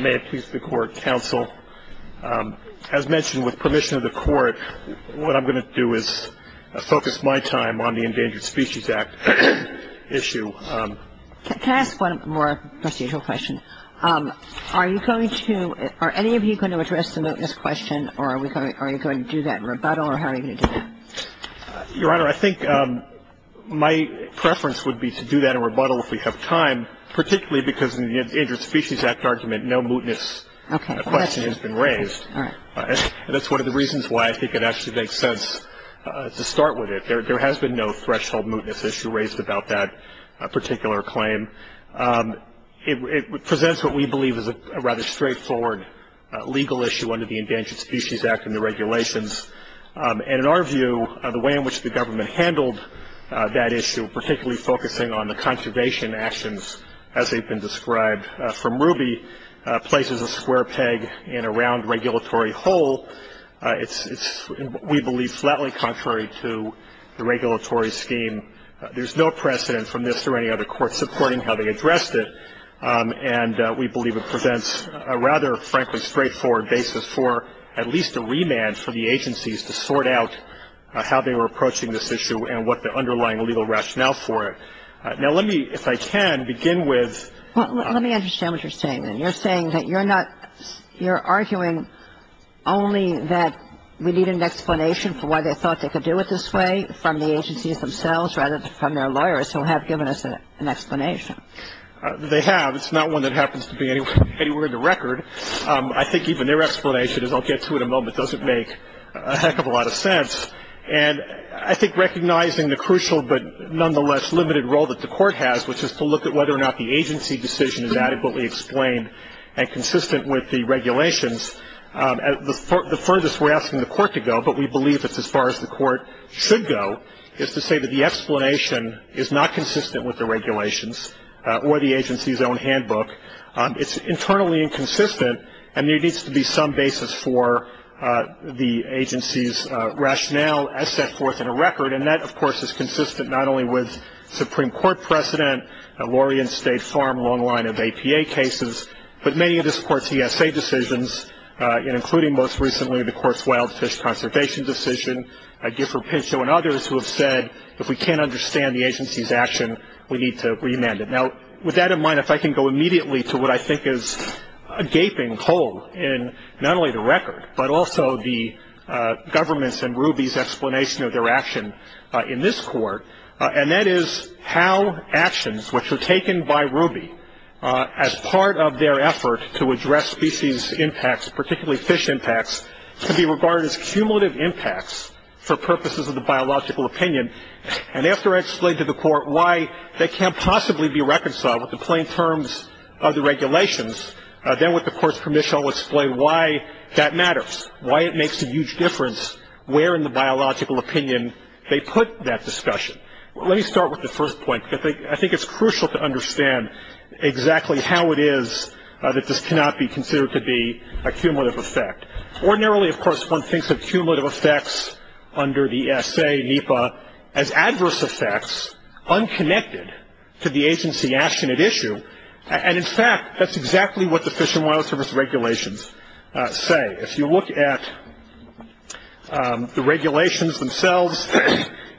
May it please the Court, Counsel. As mentioned, with permission of the Court, what I'm going to do is focus my time on the Endangered Species Act issue. Can I ask one more procedural question? Are you going to, are any of you going to address the moteness question, or are you going to do that in rebuttal, or how are you going to do that? Your Honor, I think my preference would be to do that in rebuttal if we have time, particularly because in the Endangered Species Act argument no moteness question has been raised. That's one of the reasons why I think it actually makes sense to start with it. There has been no threshold moteness issue raised about that particular claim. It presents what we believe is a rather straightforward legal issue under the Endangered Species Act and the regulations. In our view, the way in which the government handled that issue, particularly focusing on the conservation actions as they've been described from Ruby, places a square peg in a round regulatory hole. It's, we believe, flatly contrary to the regulatory scheme. There's no precedent from this or any other court supporting how they addressed it, and we believe it presents a rather, frankly, straightforward basis for at least a remand for the agencies to sort out how they were approaching this issue and what the underlying legal rationale for it. Now, let me, if I can, begin with Well, let me understand what you're saying then. You're saying that you're not, you're arguing only that we need an explanation for why they thought they could do it this way from the agencies themselves rather than from their lawyers who have given us an explanation. They have. It's not one that happens to be anywhere in the record. I think even their explanation, as I'll get to in a moment, doesn't make a heck of a lot of sense. And I think recognizing the crucial but nonetheless limited role that the court has, which is to look at whether or not the agency decision is adequately explained and consistent with the regulations, the furthest we're asking the court to go, but we believe it's as far as the court should go, is to say that the explanation is not consistent with the regulations or the agency's own handbook. It's internally inconsistent, and there needs to be some basis for the agency's rationale as set forth in the record, and that, of course, is consistent not only with Supreme Court precedent, Laurie and State Farm, a long line of APA cases, but many of this court's ESA decisions, including most recently the Courts Wild Fish Conservation decision, Gifford Pinchot and others who have said if we can't understand the agency's action, we need to remand it. Now, with that in mind, if I can go immediately to what I think is a gaping hole in not only the record, but also the government's and RUBY's explanation of their action in this court, and that is how actions which were taken by RUBY as part of their effort to address species impacts, particularly fish impacts, can be regarded as cumulative impacts for purposes of the biological opinion, and after I explain to the court why they can't possibly be reconciled with the plain terms of the regulations, then with the court's permission I'll explain why that matters, why it makes a huge difference where in the biological opinion they put that discussion. Let me start with the first point. I think it's crucial to understand exactly how it is that this cannot be considered to be a cumulative effect. Ordinarily, of course, one thinks of cumulative effects under the S.J. NEPA as adverse effects, unconnected to the agency action at issue, and in fact, that's exactly what the Fish and Wildlife Service regulations say. If you look at the regulations themselves,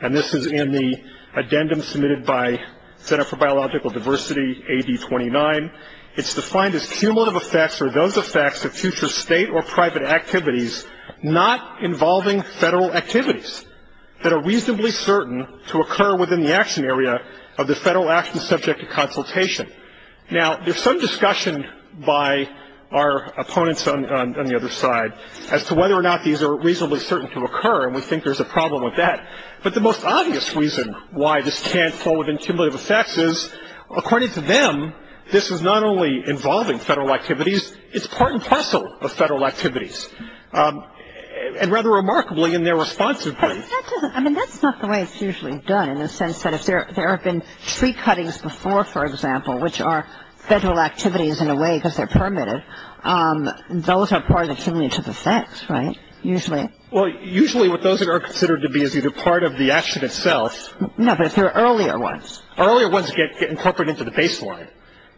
and this is in the addendum submitted by the Center for Biological Diversity, AB 29, it's defined as cumulative effects are those effects of future state or private activities not involving federal activities that are reasonably certain to occur within the action area of the federal action subject to consultation. Now, there's some discussion by our opponents on the other side as to whether or not these are reasonably certain to occur, and we think there's a problem with that. But the most obvious reason why this can't fall within cumulative effects is, according to them, this is not only involving federal activities, it's part and parcel of federal activities, and rather remarkably in their responsiveness. I mean, that's not the way it's usually done in the sense that if there have been tree cuttings before, for example, which are federal activities in a way because they're primitive, those are part of the cumulative effects, right, usually? Well, usually what those are considered to be is either part of the action itself. No, those are earlier ones. Earlier ones get incorporated into the baseline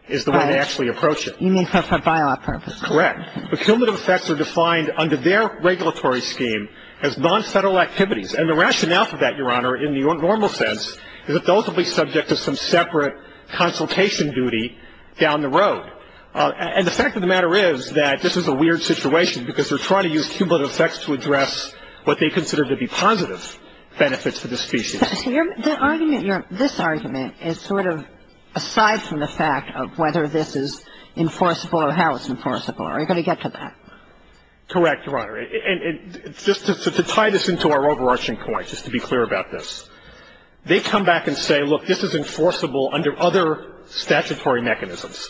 is the way they actually approach it. You mean for biopurpose. Correct. But cumulative effects are defined under their regulatory scheme as non-federal activities, and the rationale for that, Your Honor, in the normal sense, is that those will be subject to some separate consultation duty down the road. And the fact of the matter is that this is a weird situation because they're trying to use cumulative effects to address what they consider to be positive benefits for this species. This argument is sort of aside from the fact of whether this is enforceable or how it's enforceable. Are you going to get to that? Correct, Your Honor. And just to tie this into our overarching point, just to be clear about this, they come back and say, look, this is enforceable under other statutory mechanisms.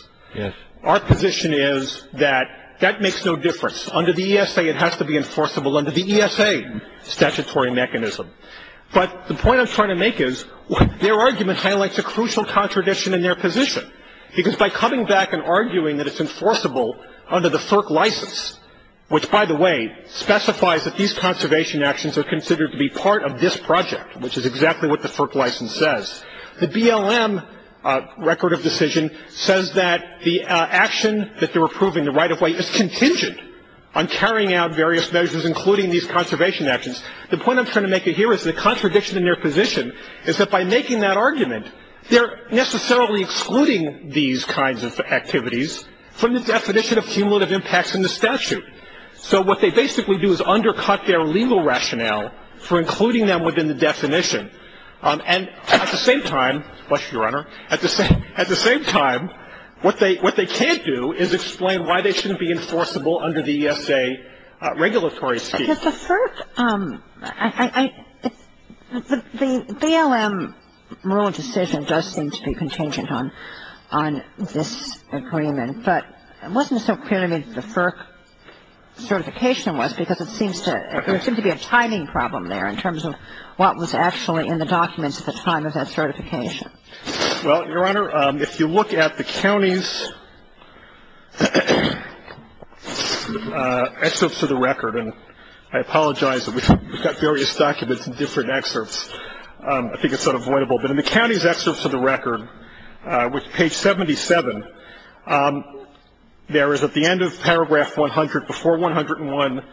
Our position is that that makes no difference. Under the ESA it has to be enforceable under the ESA statutory mechanism. But the point I'm trying to make is their argument highlights a crucial contradiction in their position because by coming back and arguing that it's enforceable under the FERC license, which, by the way, specifies that these conservation actions are considered to be part of this project, which is exactly what the FERC license says, the BLM record of decision says that the action that they're approving, the right-of-way, is contingent on carrying out various measures, including these conservation actions. The point I'm trying to make here is the contradiction in their position is that by making that argument, they're necessarily excluding these kinds of activities from the definition of cumulative impacts in the statute. So what they basically do is undercut their legal rationale for including them within the definition. And at the same time, what's your honor, at the same time, what they can't do is explain why they shouldn't be enforceable under the ESA regulatory scheme. The FERC, the BLM rule of decision does seem to be contingent on this agreement, but it wasn't so clear to me what the FERC certification was because it seems to be a timing problem there in terms of what was actually in the documents at the time of that certification. Well, your honor, if you look at the county's excerpts of the record, and I apologize that we've got various documents and different excerpts, I think it's sort of avoidable, but in the county's excerpts of the record, which is page 77, there is at the end of paragraph 100, before 101,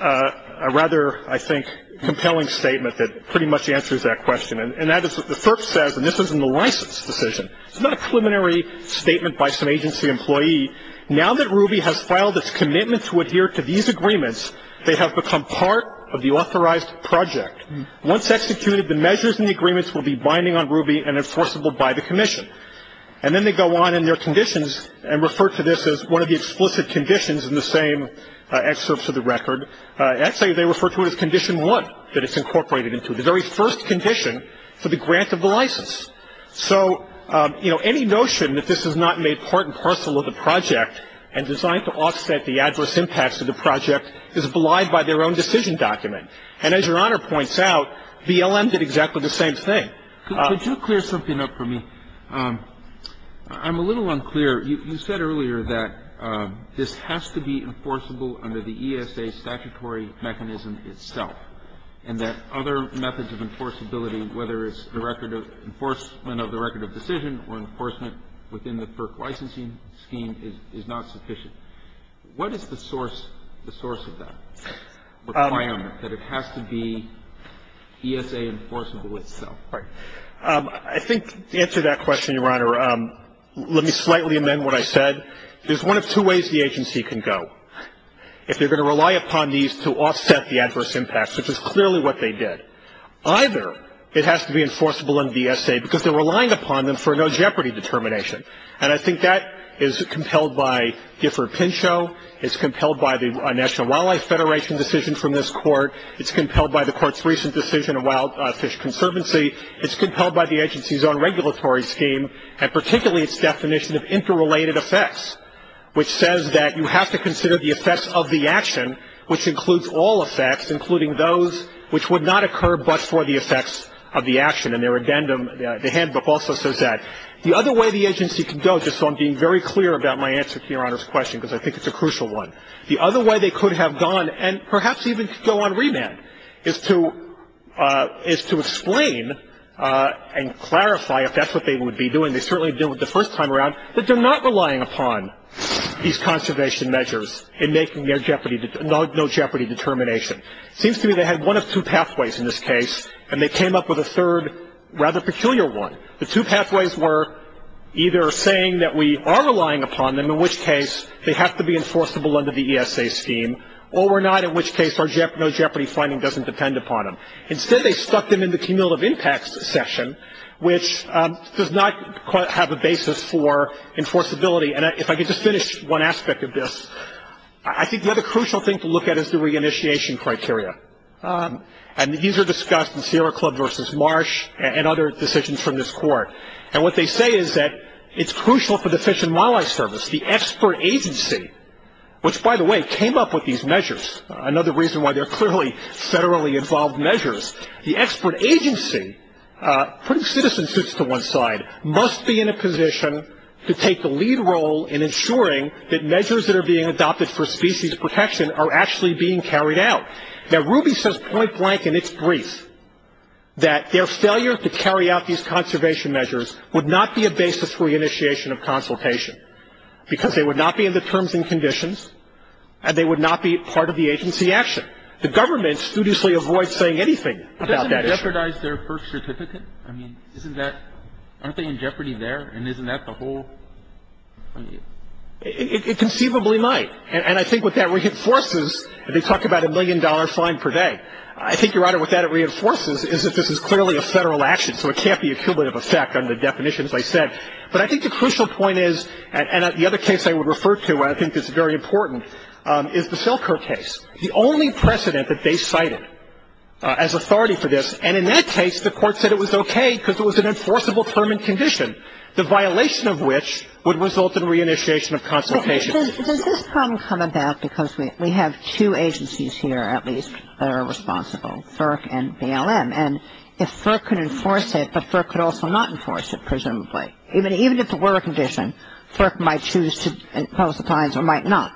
a rather, I think, compelling statement that pretty much answers that question. And that is that the FERC says, and this is in the license decision, it's not a preliminary statement by some agency employee, now that Ruby has filed this commitment to adhere to these agreements, they have become part of the authorized project. Once executed, the measures in the agreements will be binding on Ruby and enforceable by the commission. And then they go on in their conditions and refer to this as one of the explicit conditions in the same excerpts of the record. Actually, they refer to it as condition one that it's incorporated into, the very first condition for the grant of the license. So, you know, any notion that this is not made part and parcel of the project and designed to offset the adverse impacts of the project is belied by their own decision document. And as Your Honor points out, BLM did exactly the same thing. Could you clear something up for me? I'm a little unclear. You said earlier that this has to be enforceable under the ESA statutory mechanism itself and that other methods of enforceability, whether it's the record of enforcement of the record of decision or enforcement within the FERC licensing scheme, is not sufficient. What is the source of that requirement that it has to be ESA enforceable itself? I think to answer that question, Your Honor, let me slightly amend what I said. There's one of two ways the agency can go. If they're going to rely upon these to offset the adverse impacts, which is clearly what they did, either it has to be enforceable in ESA because they're relying upon them for a no jeopardy determination. And I think that is compelled by Gifford-Pinchot. It's compelled by the National Wildlife Federation decision from this court. It's compelled by the court's recent decision of Wild Fish Conservancy. It's compelled by the agency's own regulatory scheme, and particularly its definition of interrelated effects, which says that you have to consider the effects of the action, which includes all effects, including those which would not occur but for the effects of the action. And their addendum, the handbook, also says that. The other way the agency can go, just so I'm being very clear about my answer to Your Honor's question, because I think it's a crucial one, the other way they could have gone, and perhaps even go on remand, is to explain and clarify if that's what they would be doing. They certainly did it the first time around, that they're not relying upon these conservation measures in making their no jeopardy determination. It seems to me they had one of two pathways in this case, and they came up with a third rather peculiar one. The two pathways were either saying that we are relying upon them, in which case they have to be enforceable under the ESA scheme, or we're not, in which case our no jeopardy finding doesn't depend upon them. Instead, they stuck them in the cumulative impact section, which does not have a basis for enforceability. And if I could just finish one aspect of this, I think the other crucial thing to look at is the reinitiation criteria. And these are discussed in Sierra Club versus Marsh and other decisions from this court. And what they say is that it's crucial for the Fish and Wildlife Service, the expert agency, which, by the way, came up with these measures. I know the reason why they're clearly federally involved measures. The expert agency, putting citizen suits to one side, must be in a position to take the lead role in ensuring that measures that are being adopted for species protection are actually being carried out. Now, Ruby says point blank in its brief that their failure to carry out these conservation measures would not be a basis for the initiation of consultation, because they would not be in the terms and conditions, and they would not be part of the agency action. The government studiously avoids saying anything about that issue. Doesn't that jeopardize their first certificate? I mean, isn't that, aren't they in jeopardy there, and isn't that the whole? It conceivably might. And I think what that reinforces, they talk about a million-dollar fine per day. I think, Your Honor, what that reinforces is that this is clearly a federal action, so it can't be a cumulative effect on the definitions I said. But I think the crucial point is, and the other case I would refer to, and I think it's very important, is the Selker case. The only precedent that they cited as authority for this, and in that case the court said it was okay because it was an enforceable term and condition, the violation of which would result in reinitiation of consultation. Does this problem come about because we have two agencies here, at least, that are responsible, FERC and BLM? And if FERC can enforce it, the FERC could also not enforce it, presumably. Even if it were a condition, FERC might choose to impose the fines or might not.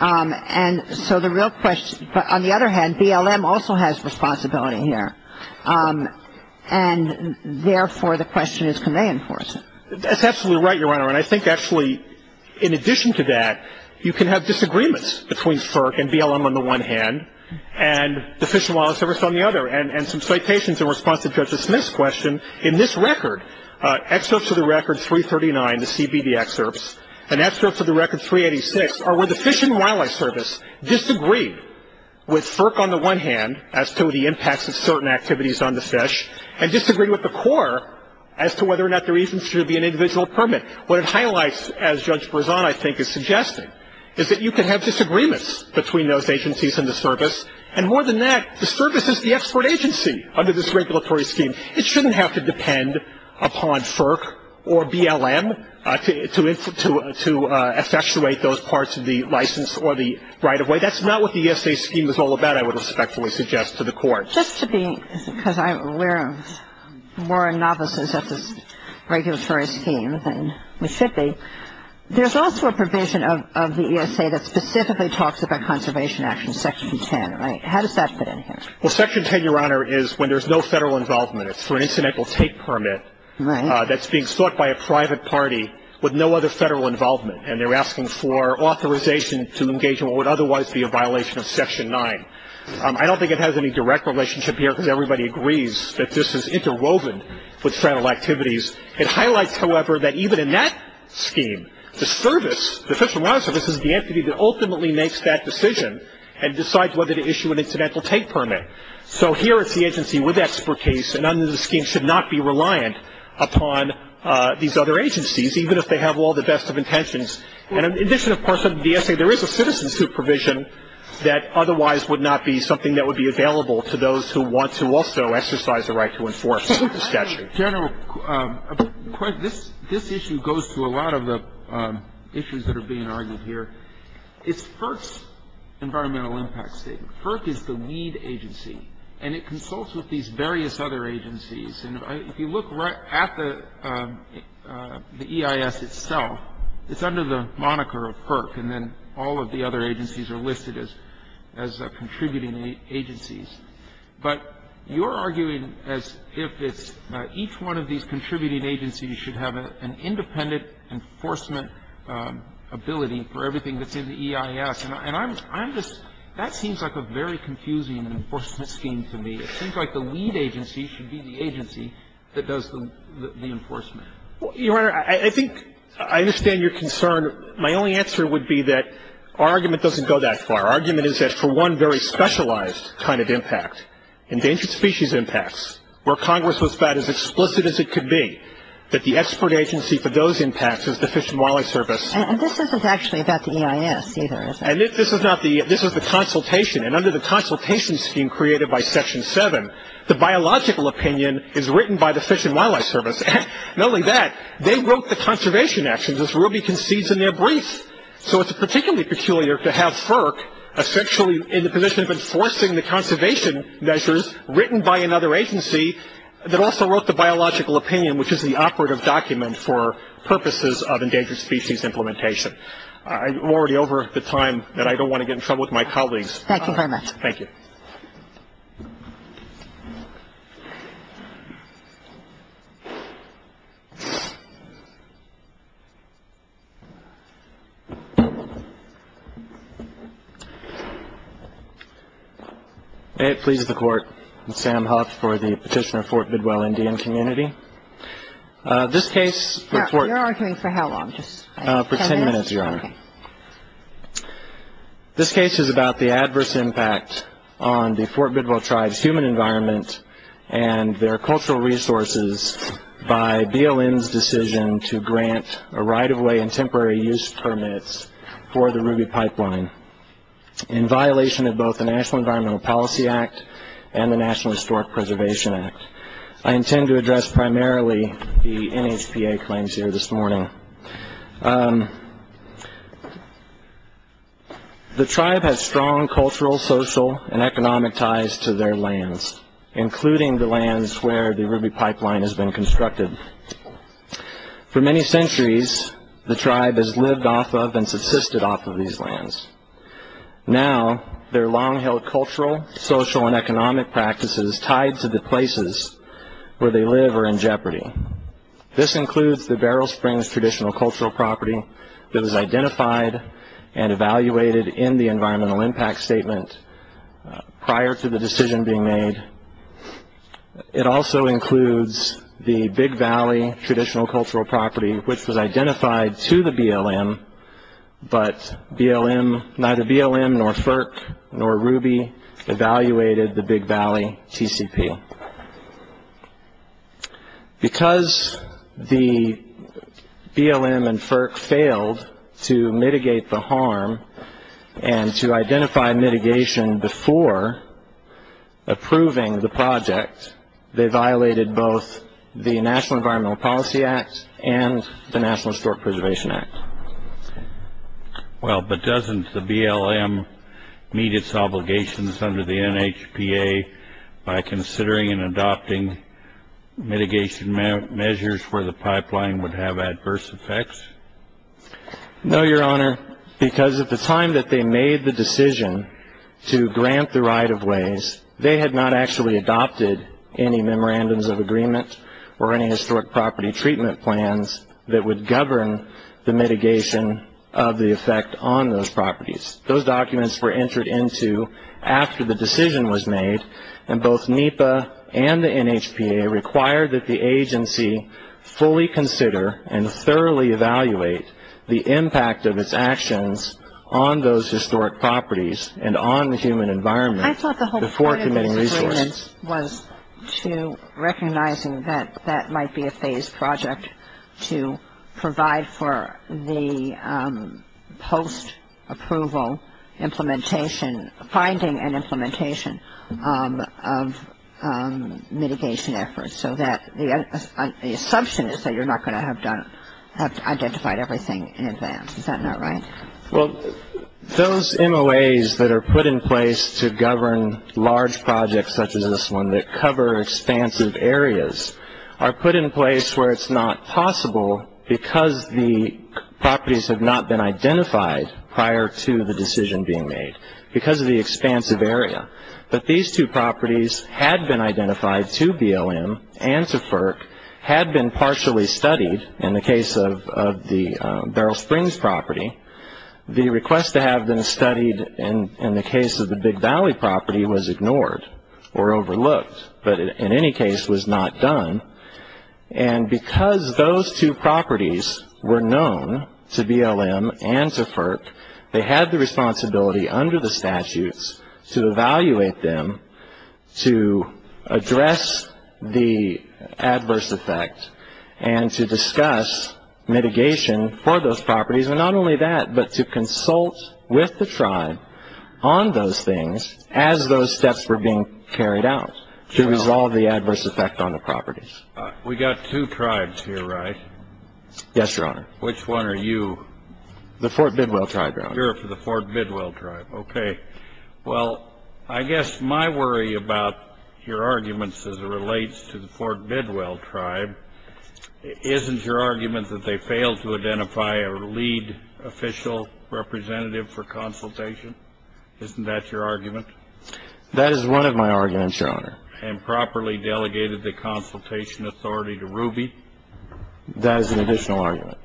And so the real question, but on the other hand, BLM also has responsibility here, and therefore the question is, can they enforce it? That's absolutely right, Your Honor. And I think, actually, in addition to that, you can have disagreements between FERC and BLM on the one hand and the Fish and Wildlife Service on the other. And some citations in response to Judge Smith's question, in this record, excerpts of the record 339, the CBD excerpts, and excerpts of the record 386, are where the Fish and Wildlife Service disagreed with FERC on the one hand, as to the impacts of certain activities on the fish, and disagreed with the Corps as to whether or not there even should be an individual permit. What it highlights, as Judge Berzon, I think, is suggesting, is that you can have disagreements between those agencies and the service, and more than that, the service is the export agency under this regulatory scheme. It shouldn't have to depend upon FERC or BLM to effectuate those parts of the license or the right-of-way. That's not what the ESA scheme is all about, I would respectfully suggest to the Court. Just to be, because I'm aware of more novices of this regulatory scheme than we should be, there's also a provision of the ESA that specifically talks about conservation action, Section 10, right? How does that fit in here? Well, Section 10, Your Honor, is when there's no federal involvement. It's for an incidental take permit that's being sought by a private party with no other federal involvement, and they're asking for authorization to engage in what would otherwise be a violation of Section 9. I don't think it has any direct relationship here, because everybody agrees that this is interwoven with federal activities. It highlights, however, that even in that scheme, the service, the Federal Law Service, is the entity that ultimately makes that decision and decides whether to issue an incidental take permit. So here is the agency with expertise, and under the scheme should not be reliant upon these other agencies, even if they have all the best of intentions. And in addition, of course, to the ESA, there is a citizen supervision that otherwise would not be something that would be available to those who want to also exercise the right to enforce the statute. General, this issue goes to a lot of the issues that are being argued here. It's FERC's environmental impact statement. FERC is the lead agency, and it consults with these various other agencies. And if you look right at the EIS itself, it's under the moniker of FERC, and then all of the other agencies are listed as contributing agencies. But you're arguing as if it's each one of these contributing agencies should have an independent enforcement ability for everything that's in the EIS. And I'm just – that seems like a very confusing enforcement scheme to me. It seems like the lead agency should be the agency that does the enforcement. Your Honor, I think I understand your concern. My only answer would be that our argument doesn't go that far. Our argument is that for one very specialized kind of impact, endangered species impacts, where Congress was about as explicit as it could be, that the expert agency for those impacts is the Fish and Wildlife Service. And this is the consultation, and under the consultation scheme created by Section 7, the biological opinion is written by the Fish and Wildlife Service. Not only that, they wrote the conservation actions as Ruby concedes in their brief. So it's particularly peculiar to have FERC essentially in the position of enforcing the conservation measures written by another agency that also wrote the biological opinion, which is the operative document for purposes of endangered species implementation. I'm already over the time that I don't want to get in trouble with my colleagues. Thank you very much. Thank you. May it please the Court, Sam Hops for the Petitioner of Fort Bidwell Indian Community. This case – Your argument for how long? For 10 minutes, Your Honor. This case is about the adverse impact on the Fort Bidwell tribe's human environment and their cultural resources by DLN's decision to grant a right-of-way and temporary use permit for the Ruby Pipeline, in violation of both the National Environmental Policy Act and the National Historic Preservation Act. I intend to address primarily the NHPA claims here this morning. The tribe has strong cultural, social, and economic ties to their lands, including the lands where the Ruby Pipeline has been constructed. For many centuries, the tribe has lived off of and subsisted off of these lands. Now, their long-held cultural, social, and economic practices tied to the places where they live are in jeopardy. This includes the Beryl Springs traditional cultural property that was identified and evaluated in the environmental impact statement prior to the decision being made. It also includes the Big Valley traditional cultural property, which was identified to the BLM, but neither BLM nor FERC nor Ruby evaluated the Big Valley TCP. Because the BLM and FERC failed to mitigate the harm and to identify mitigation before approving the project, they violated both the National Environmental Policy Act and the National Historic Preservation Act. Well, but doesn't the BLM meet its obligations under the NHPA by considering and adopting mitigation measures where the pipeline would have adverse effects? No, Your Honor, because at the time that they made the decision to grant the right-of-ways, they had not actually adopted any memorandums of agreement or any historic property treatment plans that would govern the mitigation of the effect on those properties. Those documents were entered into after the decision was made, and both NEPA and the NHPA required that the agency fully consider and thoroughly evaluate the impact of its actions on those historic properties and on the human environment I thought the whole point of the agreement was to recognizing that that might be a phased project to provide for the post-approval implementation, finding and implementation of mitigation efforts so that the assumption is that you're not going to have done, have identified everything in advance. Is that not right? Well, those MOAs that are put in place to govern large projects such as this one that cover expansive areas are put in place where it's not possible because the properties have not been identified prior to the decision being made because of the expansive area. But these two properties had been identified to BLM and to FERC, had been partially studied in the case of the Beryl Springs property. The request to have them studied in the case of the Big Valley property was ignored or overlooked, but in any case was not done. And because those two properties were known to BLM and to FERC, they had the responsibility under the statutes to evaluate them to address the adverse effects and to discuss mitigation for those properties, and not only that, but to consult with the tribe on those things as those steps were being carried out to resolve the adverse effects on the properties. We've got two tribes here, right? Yes, Your Honor. Which one are you? The Fort Bidwell tribe, Your Honor. You're for the Fort Bidwell tribe. Okay. Well, I guess my worry about your arguments as it relates to the Fort Bidwell tribe, isn't your argument that they failed to identify a lead official representative for consultation? Isn't that your argument? That is one of my arguments, Your Honor. And properly delegated the consultation authority to Ruby? That is an additional argument.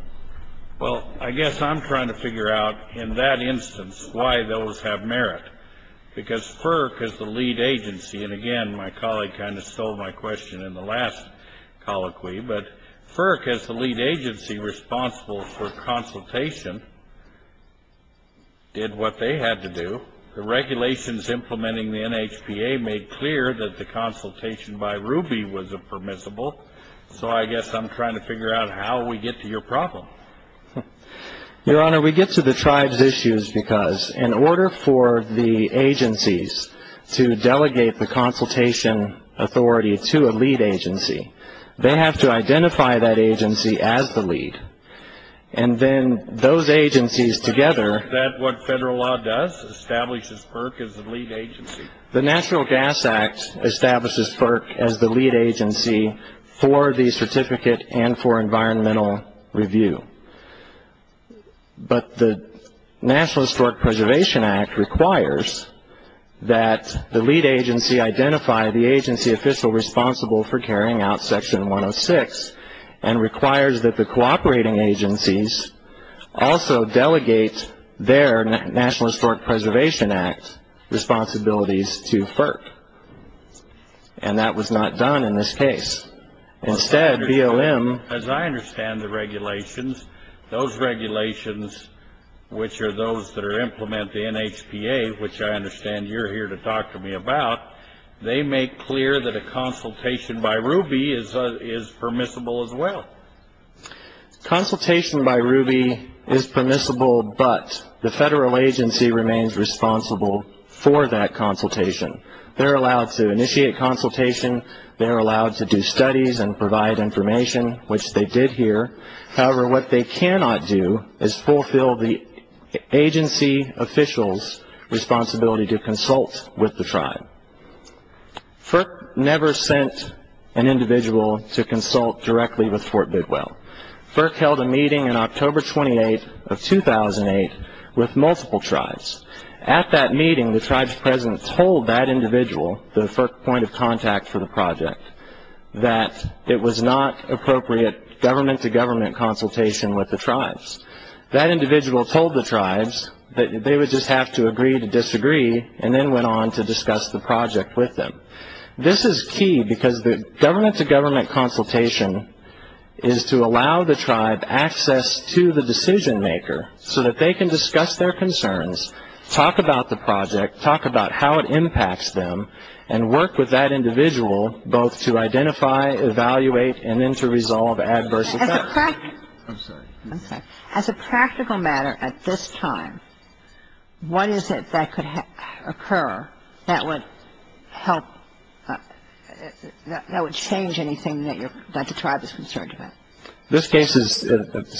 Well, I guess I'm trying to figure out in that instance why those have merit. Because FERC is the lead agency, and again, my colleague kind of stole my question in the last colloquy, but FERC is the lead agency responsible for consultation, did what they had to do. The regulations implementing the NHPA made clear that the consultation by Ruby was impermissible, so I guess I'm trying to figure out how we get to your problem. Your Honor, we get to the tribe's issues because in order for the agencies to delegate the consultation authority to a lead agency, they have to identify that agency as the lead. And then those agencies together. Is that what federal law does, establishes FERC as the lead agency? The National Gas Act establishes FERC as the lead agency for the certificate and for environmental review. But the National Historic Preservation Act requires that the lead agency identify the agency official responsible for carrying out Section 106 and requires that the cooperating agencies also delegate their National Historic Preservation Act responsibilities to FERC. And that was not done in this case. Instead, BLM. As I understand the regulations, those regulations, which are those that implement the NHPA, which I understand you're here to talk to me about, they make clear that a consultation by Ruby is permissible as well. Consultation by Ruby is permissible, but the federal agency remains responsible for that consultation. They're allowed to initiate consultation. They're allowed to do studies and provide information, which they did here. However, what they cannot do is fulfill the agency official's responsibility to consult with the tribe. FERC never sent an individual to consult directly with Fort Bidwell. FERC held a meeting on October 28th of 2008 with multiple tribes. At that meeting, the tribe's president told that individual, the FERC point of contact for the project, that it was not appropriate government-to-government consultation with the tribes. That individual told the tribes that they would just have to agree to disagree and then went on to discuss the project with them. This is key because government-to-government consultation is to allow the tribe access to the decision maker so that they can discuss their concerns, talk about the project, talk about how it impacts them, and work with that individual both to identify, evaluate, and then to resolve adverse effects. As a practical matter at this time, what is it that could occur that would help, that would change anything that the tribe is concerned about? This case is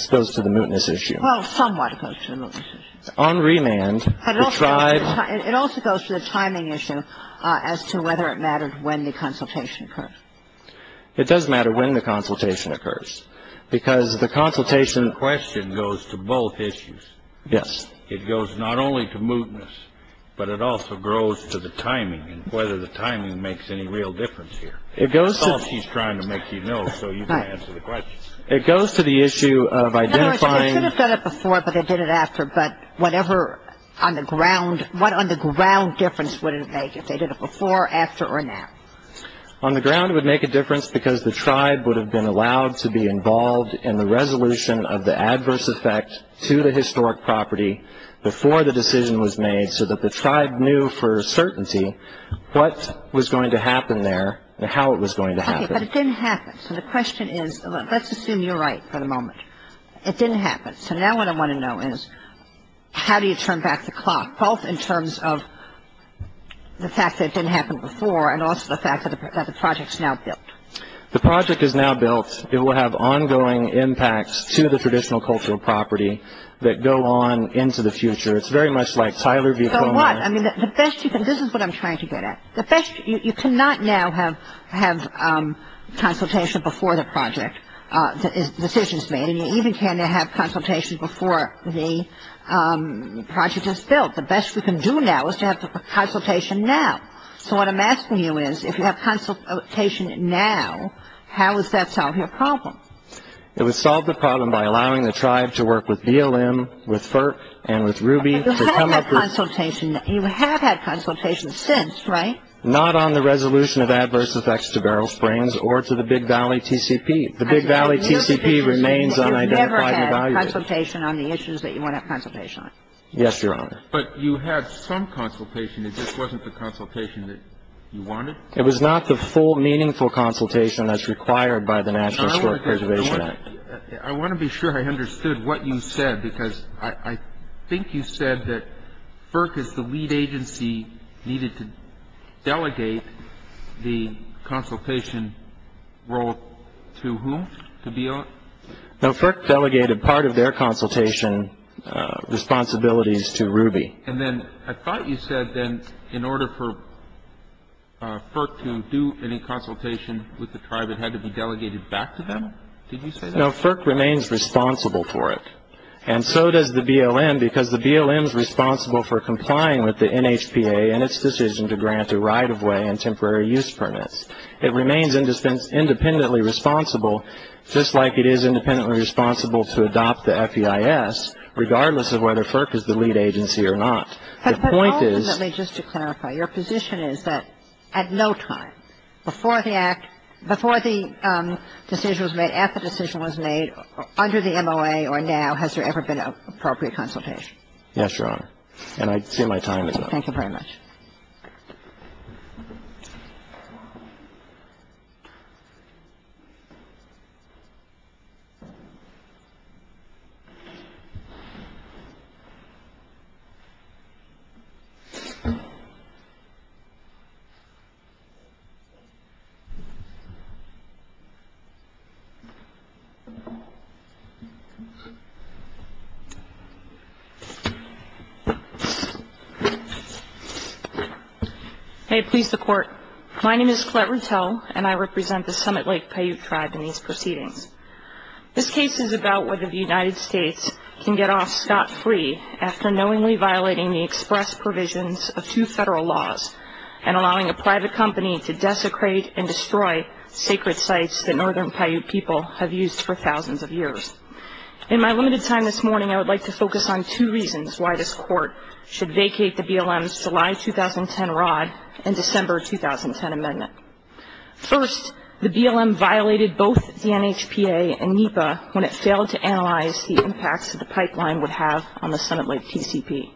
close to the mootness issue. Well, somewhat close to the mootness issue. On remand, the tribe- It also goes to the timing issue as to whether it mattered when the consultation occurred. It does matter when the consultation occurs because the consultation- The question goes to both issues. Yes. It goes not only to mootness, but it also grows to the timing and whether the timing makes any real difference here. I thought she's trying to make you know so you can answer the questions. It goes to the issue of identifying- I should have said it before, but I did it after, but whatever on the ground, what on the ground difference would it make if they did it before, after, or now? On the ground, it would make a difference because the tribe would have been allowed to be involved in the resolution of the adverse effect to the historic property before the decision was made so that the tribe knew for certainty what was going to happen there and how it was going to happen. Okay, but it didn't happen, so the question is- Let's assume you're right for the moment. It didn't happen, so now what I want to know is how do you turn back the clock, both in terms of the fact that it didn't happen before and also the fact that the project is now built? The project is now built. It will have ongoing impacts to the traditional cultural property that go on into the future. It's very much like Tyler- This is what I'm trying to get at. You cannot now have consultation before the project, the decision is made, and you even cannot have consultation before the project is built. The best we can do now is to have the consultation now. So what I'm asking you is if you have consultation now, how does that solve your problem? It would solve the problem by allowing the tribe to work with BLM, with FERC, and with Ruby to come up with- You have had consultation. You have had consultation since, right? Not on the resolution of adverse effects to barrel springs or to the Big Valley TCP. The Big Valley TCP remains unidentified. You've never had consultation on the issues that you want to have consultation on? Yes, Your Honor. But you had some consultation. It just wasn't the consultation that you wanted? It was not the full meaningful consultation that's required by the National Historic Preservation Act. I want to be sure I understood what you said because I think you said that FERC is the lead agency and that we needed to delegate the consultation role to whom? To BLM? No, FERC delegated part of their consultation responsibilities to Ruby. And then I thought you said then in order for FERC to do any consultation with the tribe, it had to be delegated back to them? Did you say that? No, FERC remains responsible for it. And so does the BLM because the BLM is responsible for complying with the NHPA and its decision to grant a right-of-way and temporary use permit. It remains independently responsible just like it is independently responsible to adopt the FEIS, regardless of whether FERC is the lead agency or not. But ultimately, just to clarify, your position is that at no time, before the decision was made, after the decision was made, under the MOA or now, has there ever been an appropriate consultation? Yes, Your Honor. And I'd say my time is up. Thank you very much. Thank you. May it please the Court. My name is Clare Russell, and I represent the Summit Lake Paiute Tribe in these proceedings. This case is about whether the United States can get off scot-free after knowingly violating the express provisions of two federal laws and allowing a private company to desecrate and destroy sacred sites that northern Paiute people have used for thousands of years. In my limited time this morning, I would like to focus on two reasons why this Court should vacate the BLM's July 2010 rod and December 2010 amendment. First, the BLM violated both the NHPA and NEPA when it failed to analyze the impact that the pipeline would have on the Summit Lake TCP.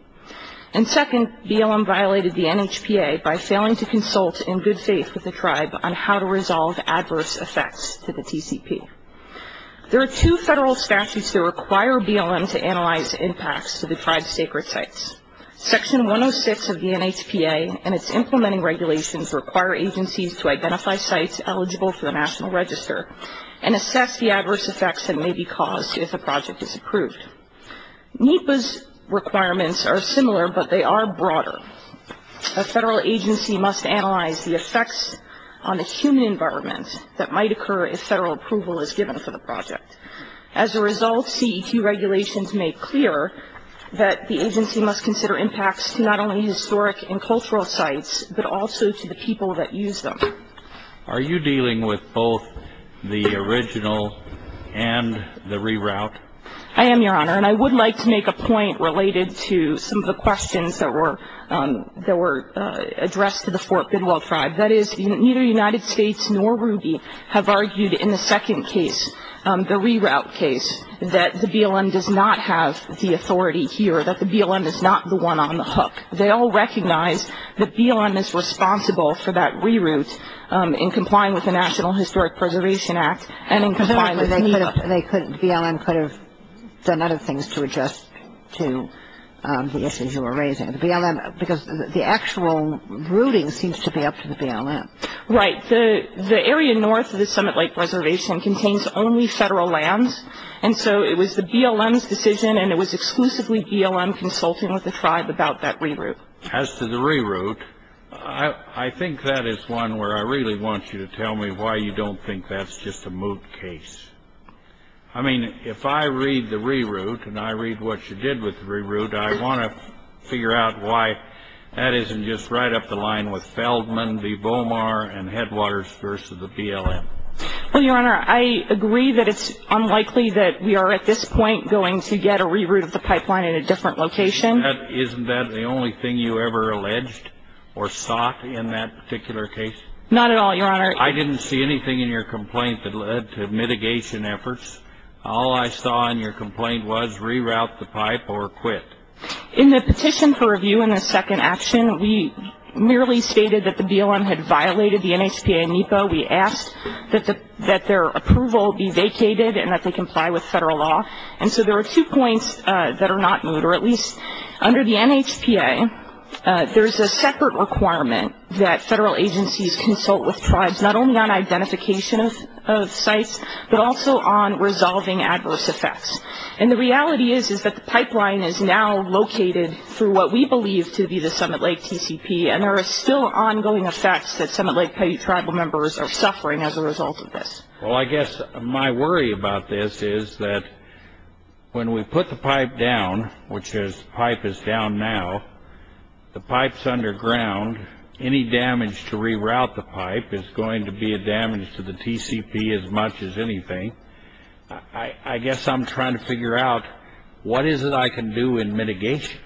And second, BLM violated the NHPA by failing to consult in good faith with the tribe on how to resolve adverse effects to the TCP. There are two federal statutes that require BLM to analyze impacts to the tribe's sacred sites. Section 106 of the NHPA and its implementing regulations require agencies to identify sites eligible for the National Register and assess the adverse effects that may be caused if a project is approved. NEPA's requirements are similar, but they are broader. A federal agency must analyze the effects on a human environment that might occur if federal approval is given for the project. As a result, CEQ regulations make clear that the agency must consider impacts to not only historic and cultural sites, but also to the people that use them. Are you dealing with both the original and the reroute? I am, Your Honor, and I would like to make a point related to some of the questions that were addressed to the Fort Goodwill tribe. That is, neither the United States nor RUBY have argued in the second case, the reroute case, that the BLM does not have the authority here, that the BLM is not the one on the hook. They all recognize that BLM is responsible for that reroute in complying with the National Historic Preservation Act. And in complying with that, BLM could have done other things to adjust to the issues you were raising. Because the actual routing seems to be up to the BLM. Right. The area north of the Summit Lake Reservation contains only federal lands, and so it was the BLM's decision and it was exclusively BLM consulting with the tribe about that reroute. As to the reroute, I think that is one where I really want you to tell me why you don't think that's just a moot case. I mean, if I read the reroute and I read what you did with the reroute, I want to figure out why that isn't just right up the line with Feldman v. Bomar and Headwaters v. the BLM. Well, Your Honor, I agree that it's unlikely that we are, at this point, going to get a reroute of the pipeline in a different location. Isn't that the only thing you ever alleged or sought in that particular case? Not at all, Your Honor. I didn't see anything in your complaint that led to mitigation efforts. All I saw in your complaint was reroute the pipe or quit. In the petition for review in the second action, we merely stated that the BLM had violated the NHPA and NEPA. We asked that their approval be vacated and that they comply with federal law. And so there are two points that are not moot, or at least under the NHPA, there's a separate requirement that federal agencies consult with tribes not only on identification of sites, but also on resolving adverse effects. And the reality is that the pipeline is now located through what we believe to be the Summit Lake TCP, and there are still ongoing effects that Summit Lake Tribal members are suffering as a result of this. Well, I guess my worry about this is that when we put the pipe down, which the pipe is down now, the pipe's underground, any damage to reroute the pipe is going to be a damage to the TCP as much as anything. I guess I'm trying to figure out what is it I can do in mitigation.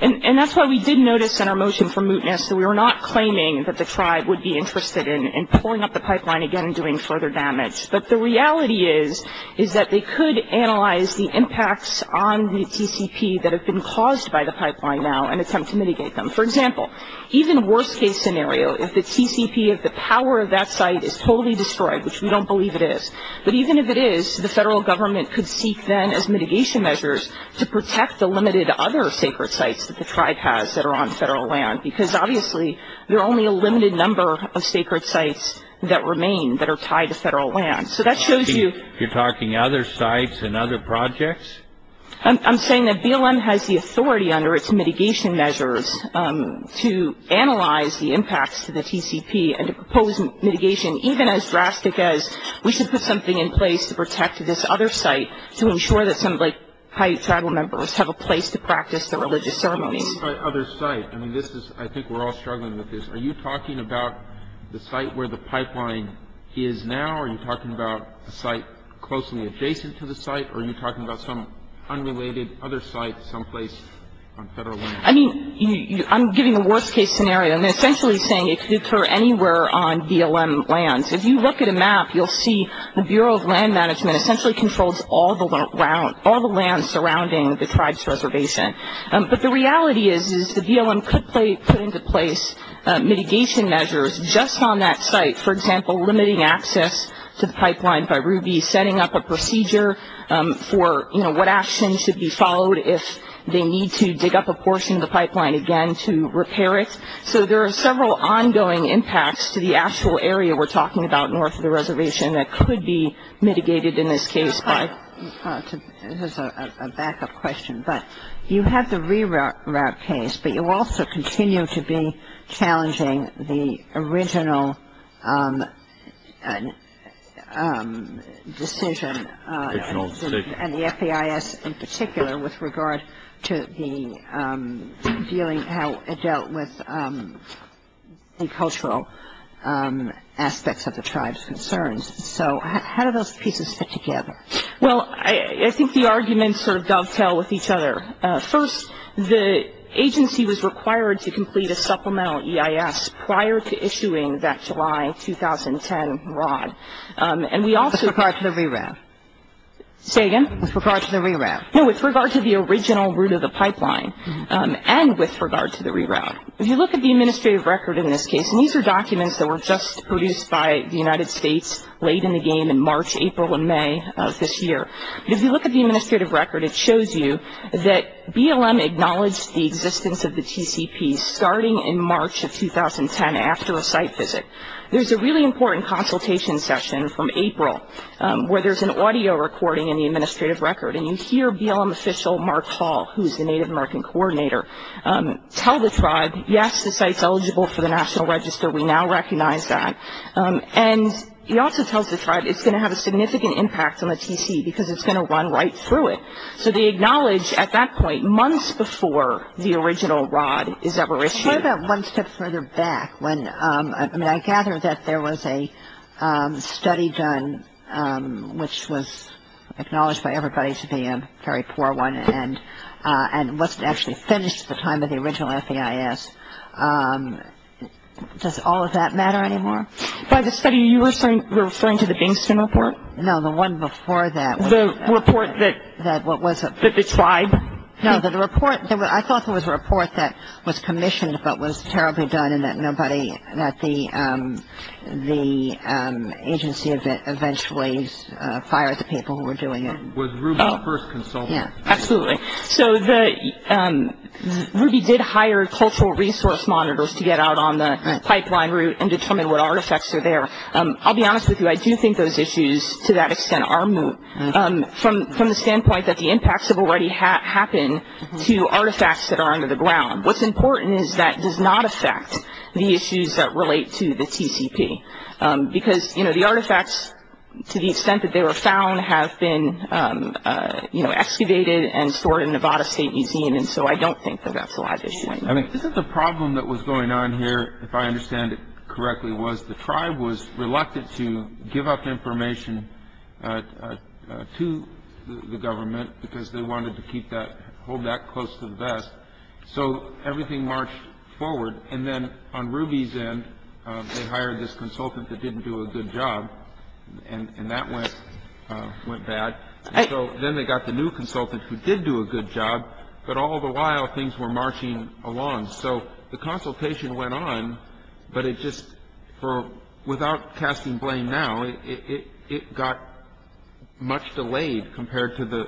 And that's what we did notice in our motion for mootness, so we were not claiming that the tribe would be interested in pulling up the pipeline again and doing further damage. But the reality is that they could analyze the impacts on the TCP that have been caused by the pipeline now and attempt to mitigate them. For example, even worst case scenario, if the TCP, if the power of that site is totally destroyed, which we don't believe it is, but even if it is, the federal government could seek then as mitigation measures to protect the limited other taker sites that the tribe has that are on federal land, because obviously there are only a limited number of sacred sites that remain that are tied to federal land. So that shows you- You're talking other sites and other projects? I'm saying that BLM has the authority under its mitigation measures to analyze the impacts to the TCP and to propose mitigation even as drastic as we should put something in place to protect this other site to ensure that some high tribal members have a place to practice the religious ceremony. What do you mean by other site? I mean, this is, I think we're all struggling with this. Are you talking about the site where the pipeline is now? Are you talking about a site closely adjacent to the site? Or are you talking about some unrelated other site someplace on federal land? I mean, I'm giving a worst case scenario. I'm essentially saying it's sort of anywhere on BLM land. If you look at a map, you'll see the Bureau of Land Management essentially controls all the land surrounding the tribe's reservation. But the reality is the BLM could put into place mitigation measures just on that site, for example, limiting access to the pipeline by Ruby, setting up a procedure for, you know, what actions should be followed if they need to dig up a portion of the pipeline again to repair it. So there are several ongoing impacts to the actual area we're talking about north of the reservation that could be mitigated in this case. This is a backup question, but you have the reroute case, but you also continue to be challenging the original decision and the FEIS in particular with regard to the dealing, how it dealt with the cultural aspects of the tribe's concerns. So how do those pieces fit together? Well, I think the arguments sort of dovetail with each other. First, the agency was required to complete a supplemental EIS prior to issuing that July 2010 ROD. With regard to the reroute. Say again? With regard to the reroute. No, with regard to the original route of the pipeline and with regard to the reroute. If you look at the administrative record in this case, and these are documents that were just produced by the United States late in the game in March, April, and May of this year. If you look at the administrative record, it shows you that BLM acknowledged the existence of the TCP starting in March of 2010 after a site visit. There's a really important consultation session from April where there's an audio recording in the administrative record, and you hear BLM official Mark Hall, who is the Native American coordinator, tell the tribe, yes, this site's eligible for the National Register. We now recognize that. And he also tells the tribe it's going to have a significant impact on the TC because it's going to run right through it. So they acknowledge at that point, months before the original ROD is ever issued. What about one step further back? I mean, I gather that there was a study done which was acknowledged by everybody to be a very poor one and wasn't actually finished at the time of the original FEIS. Does all of that matter anymore? By the study, are you referring to the Gameston report? No, the one before that. The report that the tribe? No, the report, I thought it was a report that was commissioned but was terribly done and that nobody, that the agency eventually fired the people who were doing it. Was Ruby the first consultant? Yeah, absolutely. So Ruby did hire cultural resource monitors to get out on the pipeline route and determine what artifacts were there. I'll be honest with you, I do think those issues, to that extent, are moot, from the standpoint that the impacts have already happened to artifacts that are under the ground. What's important is that does not affect the issues that relate to the TCP because, you know, the artifacts, to the extent that they were found, have been excavated and stored in Nevada State Museum and so I don't think that that's a lot of issues. I think the problem that was going on here, if I understand it correctly, was the tribe was reluctant to give up information to the government because they wanted to keep that, hold that close to the vest. So everything marched forward and then on Ruby's end, they hired this consultant that didn't do a good job and that went bad and so then they got the new consultant who did do a good job but all the while things were marching along. So the consultation went on but it just, without casting blame now, it got much delayed compared to the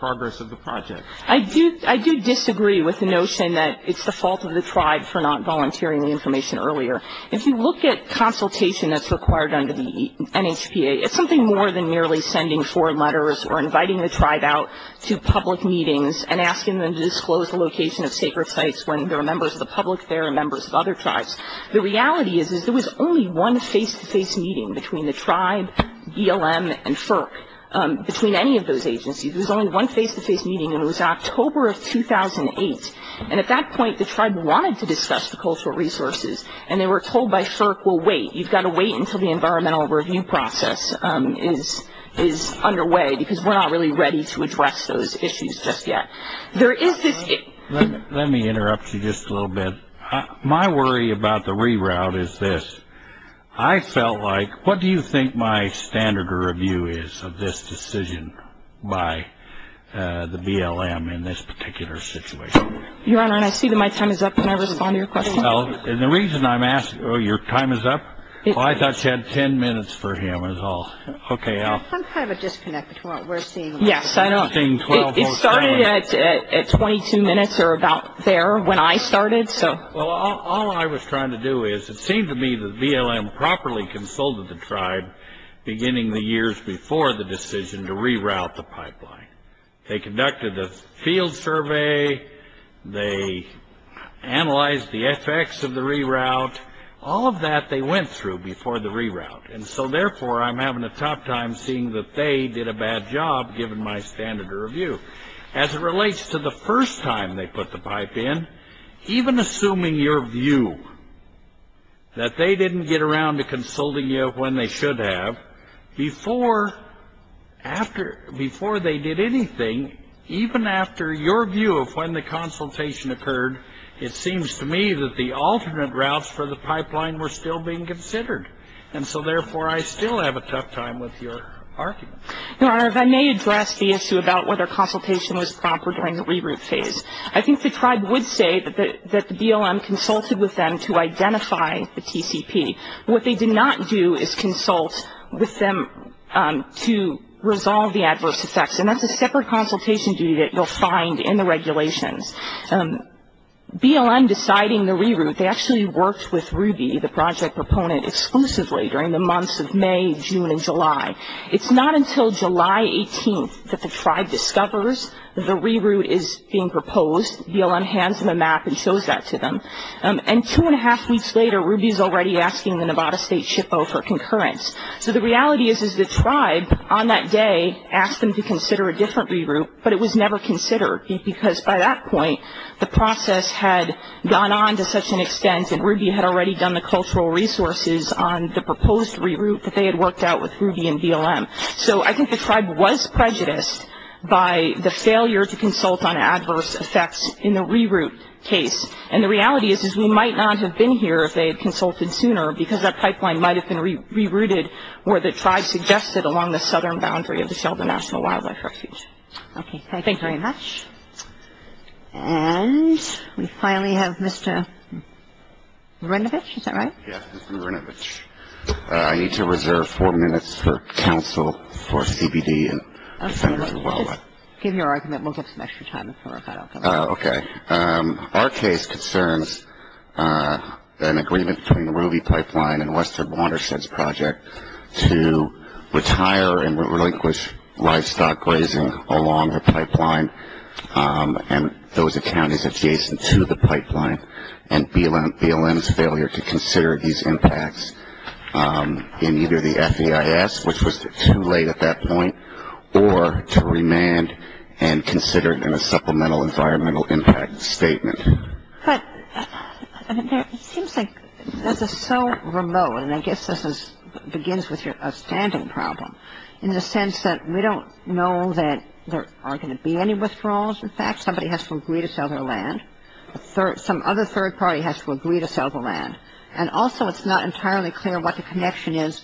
progress of the project. I do disagree with the notion that it's the fault of the tribe for not volunteering the information earlier. If you look at consultation that's required under the NHPA, it's something more than merely sending four letters or inviting the tribe out to public meetings and asking them to disclose the location of sacred sites when there are members of the public there and members of other tribes. The reality is that there was only one face-to-face meeting between the tribe, BLM, and FERC, between any of those agencies. There was only one face-to-face meeting and it was October of 2008. And at that point, the tribe wanted to discuss the cultural resources and they were told by FERC, well, wait. You've got to wait until the environmental review process is underway because we're not really ready to address those issues just yet. Let me interrupt you just a little bit. My worry about the reroute is this. I felt like, what do you think my standard of review is of this decision by the BLM in this particular situation? Your Honor, I see that my time is up. Can I respond to your question? No. And the reason I'm asking, oh, your time is up? I thought you had ten minutes for him is all. Okay, Al. Some kind of disconnect between what we're seeing. Yes, I know. It started at 22 minutes or about there when I started, so. Well, all I was trying to do is, it seemed to me that BLM properly consulted the tribe beginning the years before the decision to reroute the pipeline. They conducted a field survey. They analyzed the effects of the reroute. All of that they went through before the reroute. And so, therefore, I'm having a tough time seeing that they did a bad job, given my standard of review. As it relates to the first time they put the pipe in, even assuming your view that they didn't get around to consulting you of when they should have, before they did anything, even after your view of when the consultation occurred, it seems to me that the alternate routes for the pipeline were still being considered. And so, therefore, I still have a tough time with your argument. Your Honor, if I may address the issue about whether consultation was proper during the reroute phase. I think the tribe would say that the BLM consulted with them to identify the TCP. What they did not do is consult with them to resolve the adverse effects. And that's a separate consultation view that you'll find in the regulations. BLM deciding the reroute, they actually worked with Ruby, the project proponent, exclusively during the months of May, June, and July. It's not until July 18th that the tribe discovers the reroute is being proposed. BLM hands them a map and shows that to them. And two and a half weeks later, Ruby's already asking the Nevada State SHPO for concurrence. So, the reality is, is the tribe, on that day, asked them to consider a different reroute, but it was never considered, because by that point, the process had gone on to such an extent that Ruby had already done the cultural resources on the proposed reroute that they had worked out with Ruby and BLM. So, I think the tribe was prejudiced by the failure to consult on adverse effects in the reroute phase. And the reality is, is we might not have been here if they had consulted sooner, because that pipeline might have been rerouted where the tribe suggested, along the southern boundary of the Sheldon National Wildlife Refuge. Okay, thanks very much. And, we finally have Mr. Rinovich, is that right? Yes, Mr. Rinovich. I need to reserve four minutes for counsel for CBD. Okay, just give your argument. We'll give some extra time for that also. Okay. Our case concerns an agreement between Ruby Pipeline and Western Watersheds Project to retire and relinquish livestock glazing along the pipeline, and those accounts adjacent to the pipeline, and BLM's failure to consider these impacts in either the FEIS, which was too late at that point, or to remand and consider it in a supplemental environmental impact statement. But it seems like this is so remote, and I guess this begins with a standing problem, in the sense that we don't know that there are going to be any withdrawals. In fact, somebody has to agree to sell their land. Some other third party has to agree to sell the land. And also, it's not entirely clear what the connection is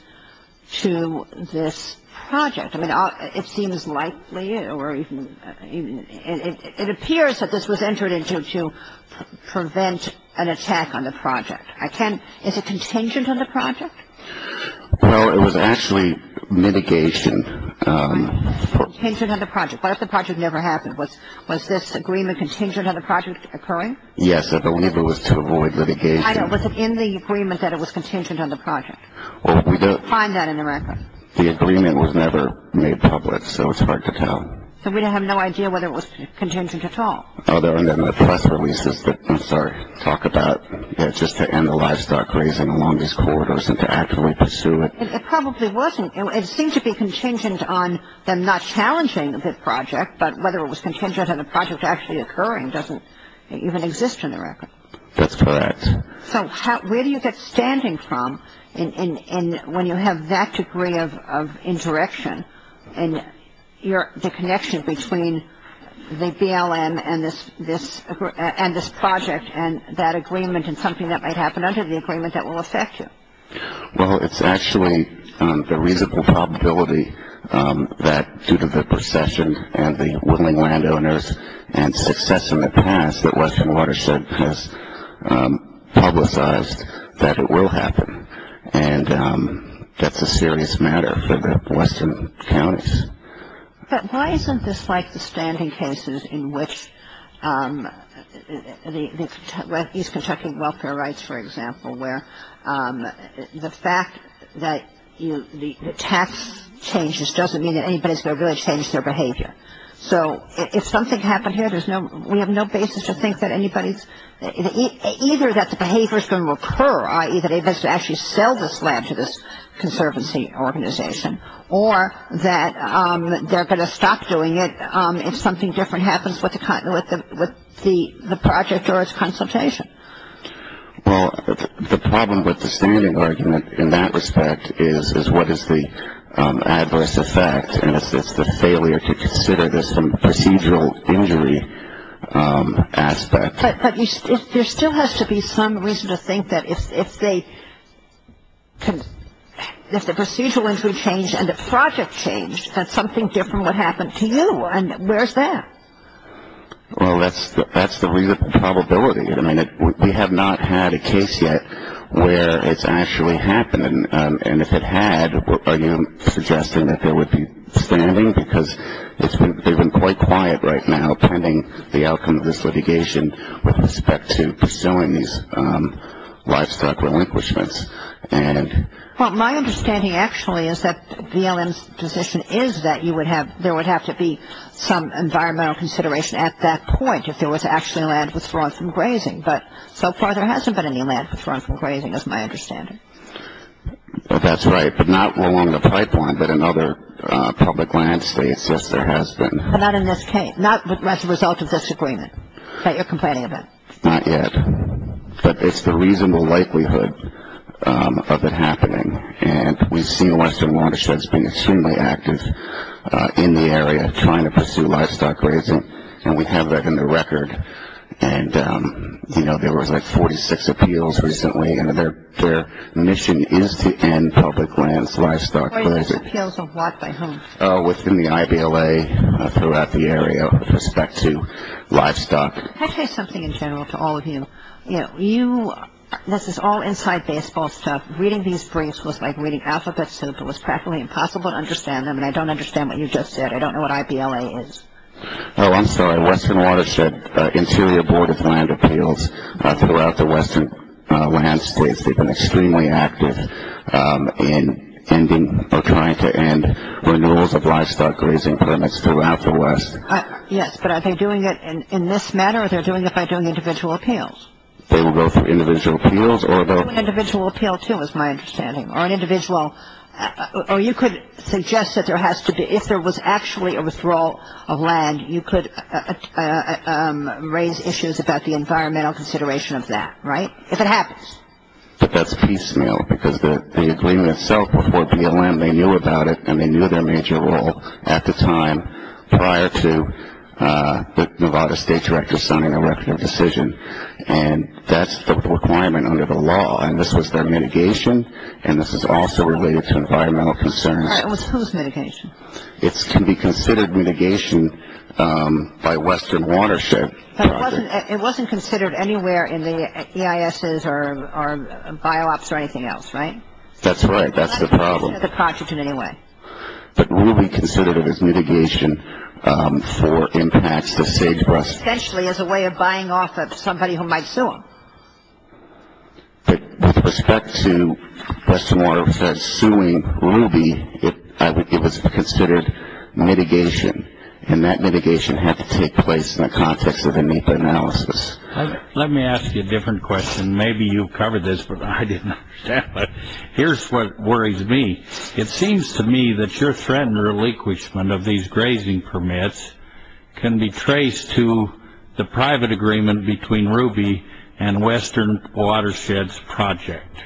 to this project. It seems likely, or it appears that this was entered into to prevent an attack on the project. Is it contingent on the project? Well, it was actually mitigation. Contingent on the project. What if the project never happened? Was this agreement contingent on the project occurring? Yes, if it was to avoid litigation. I know, but was it in the agreement that it was contingent on the project? Well, we don't find that in the record. The agreement was never made public, so it's hard to tell. So we have no idea whether it was contingent at all? Other than the press releases that start to talk about, you know, just to end the livestock grazing along these corridors and to actually pursue it. It probably wasn't. It seemed to be contingent on them not challenging the project, but whether it was contingent on the project actually occurring doesn't even exist in the record. That's correct. So where do you get standing from when you have that degree of interaction and the connection between the BLM and this project and that agreement and something that might happen under the agreement that will affect you? Well, it's actually the reasonable probability that due to the procession and the willing landowners and success in the past that Western Watershed has had with us that it will happen, and that's a serious matter for the Western counties. But why isn't this like the standing cases in which the use of contracting welfare rights, for example, where the fact that the tax changes doesn't mean that anybody's going to really change their behavior? So if something happened here, we have no basis to think that anybody's, either that the behavior is going to occur, i.e., that they must actually sell this land to this conservancy organization, or that they're going to stop doing it if something different happens with the project or its consultation. Well, the problem with the standing argument in that respect is what is the adverse effect, and if it's the failure to consider this some procedural injury aspect. But there still has to be some reason to think that if they can, if the procedural injury changed and the project changed, that something different would happen to you, and where's that? Well, that's the reasonable probability. I mean, we have not had a case yet where it's actually happening, and if it had, you know, suggesting that there would be standing, because they've been quite quiet right now pending the outcome of this litigation with respect to pursuing these livestock relinquishments. Well, my understanding, actually, is that DLM's position is that you would have, there would have to be some environmental consideration at that point if there was actually land withdrawn from grazing. But so far there hasn't been any land withdrawn from grazing is my understanding. That's right, but not along the pipeline, but in other public land states, yes, there has been. But not in this case, not as a result of this agreement that you're complaining about. Not yet. But it's the reasonable likelihood of it happening, and we see western watersheds being extremely active in the area trying to pursue livestock grazing, and we have that in the record. And, you know, there was like 46 appeals recently, and their mission is to end public lands livestock grazing. There were appeals of what by whom? Within the IBLA throughout the area with respect to livestock. Can I say something in general to all of you? You know, this is all inside baseball stuff. Reading these briefs was like reading alphabet soup. It was practically impossible to understand them, and I don't understand what you just said. I don't know what IBLA is. Oh, I'm sorry. Western Watershed Interior Board of Land Appeals throughout the western land space. They've been extremely active in ending or trying to end renewals of livestock grazing permits throughout the west. Yes, but are they doing it in this manner, or are they doing it by doing individual appeals? They will go through individual appeals, or they'll- Individual appeals too is my understanding, or an individual. Or you could suggest that there has to be- if there was actually a withdrawal of land, you could raise issues about the environmental consideration of that, right? If it happens. But that's piecemeal, because the agreement itself was for BLM. They knew about it, and they knew their major role at the time prior to the Nevada State Director signing an election decision, and that's the requirement under the law. And this has been mitigation, and this is also related to environmental concerns. All right, and what's post-mitigation? It can be considered mitigation by Western Watershed. But it wasn't considered anywhere in the EISs or bio ops or anything else, right? That's right. That's the problem. But will be considered as mitigation for impacts to sagebrush. Essentially as a way of buying off somebody who might sue them. With respect to Western Watershed suing Ruby, it was considered mitigation, and that mitigation had to take place in the context of a NEPA analysis. Let me ask you a different question. Maybe you've covered this, but I didn't understand it. Here's what worries me. It seems to me that your threat and relinquishment of these grazing permits can be traced to the private agreement between Ruby and Western Watershed's project.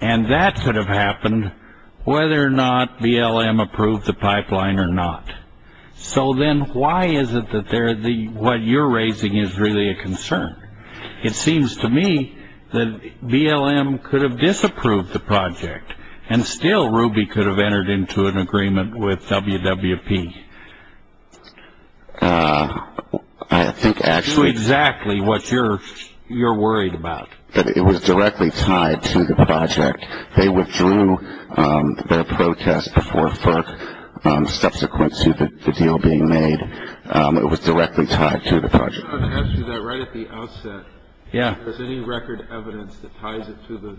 And that could have happened whether or not BLM approved the pipeline or not. So then why is it that what you're raising is really a concern? It seems to me that BLM could have disapproved the project, and still Ruby could have entered into an agreement with WWP. I think actually- Exactly what you're worried about. But it was directly tied to the project. They withdrew their protest before first subsequent to the deal being made. It was directly tied to the project. I asked you that right at the outset. Yeah. If there's any record evidence that ties it to the,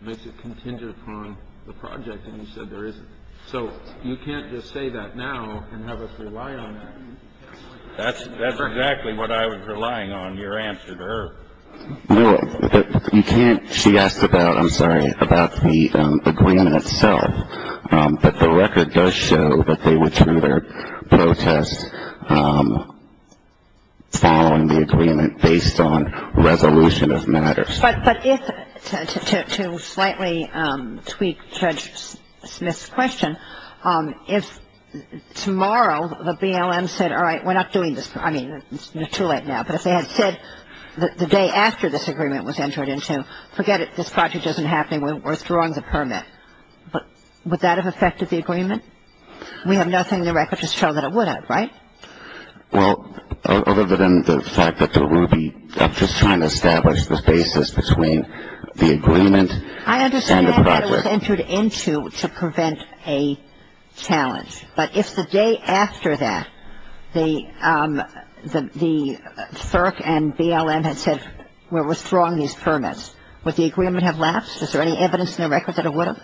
makes it contingent upon the project, and you said there isn't. So you can't just say that now and have us rely on it. That's exactly what I was relying on, your answer to her. No, you can't. She asked about, I'm sorry, about the agreement itself. But the record does show that they withdrew their protest following the agreement based on resolution of matters. But if, to slightly tweak Judge Smith's question, if tomorrow the BLM said, all right, we're not doing this. I mean, it's too late now. But if they had said the day after this agreement was entered into, forget it. This project isn't happening. We're withdrawing the permit. Would that have affected the agreement? We have nothing in the record to show that it would have, right? Well, other than the fact that it's a ruby, I'm just trying to establish the basis between the agreement and the project. I understand that matters entered into to prevent a challenge. But if the day after that the FERC and BLM had said we're withdrawing these permits, would the agreement have lapsed? Is there any evidence in the record that it would have?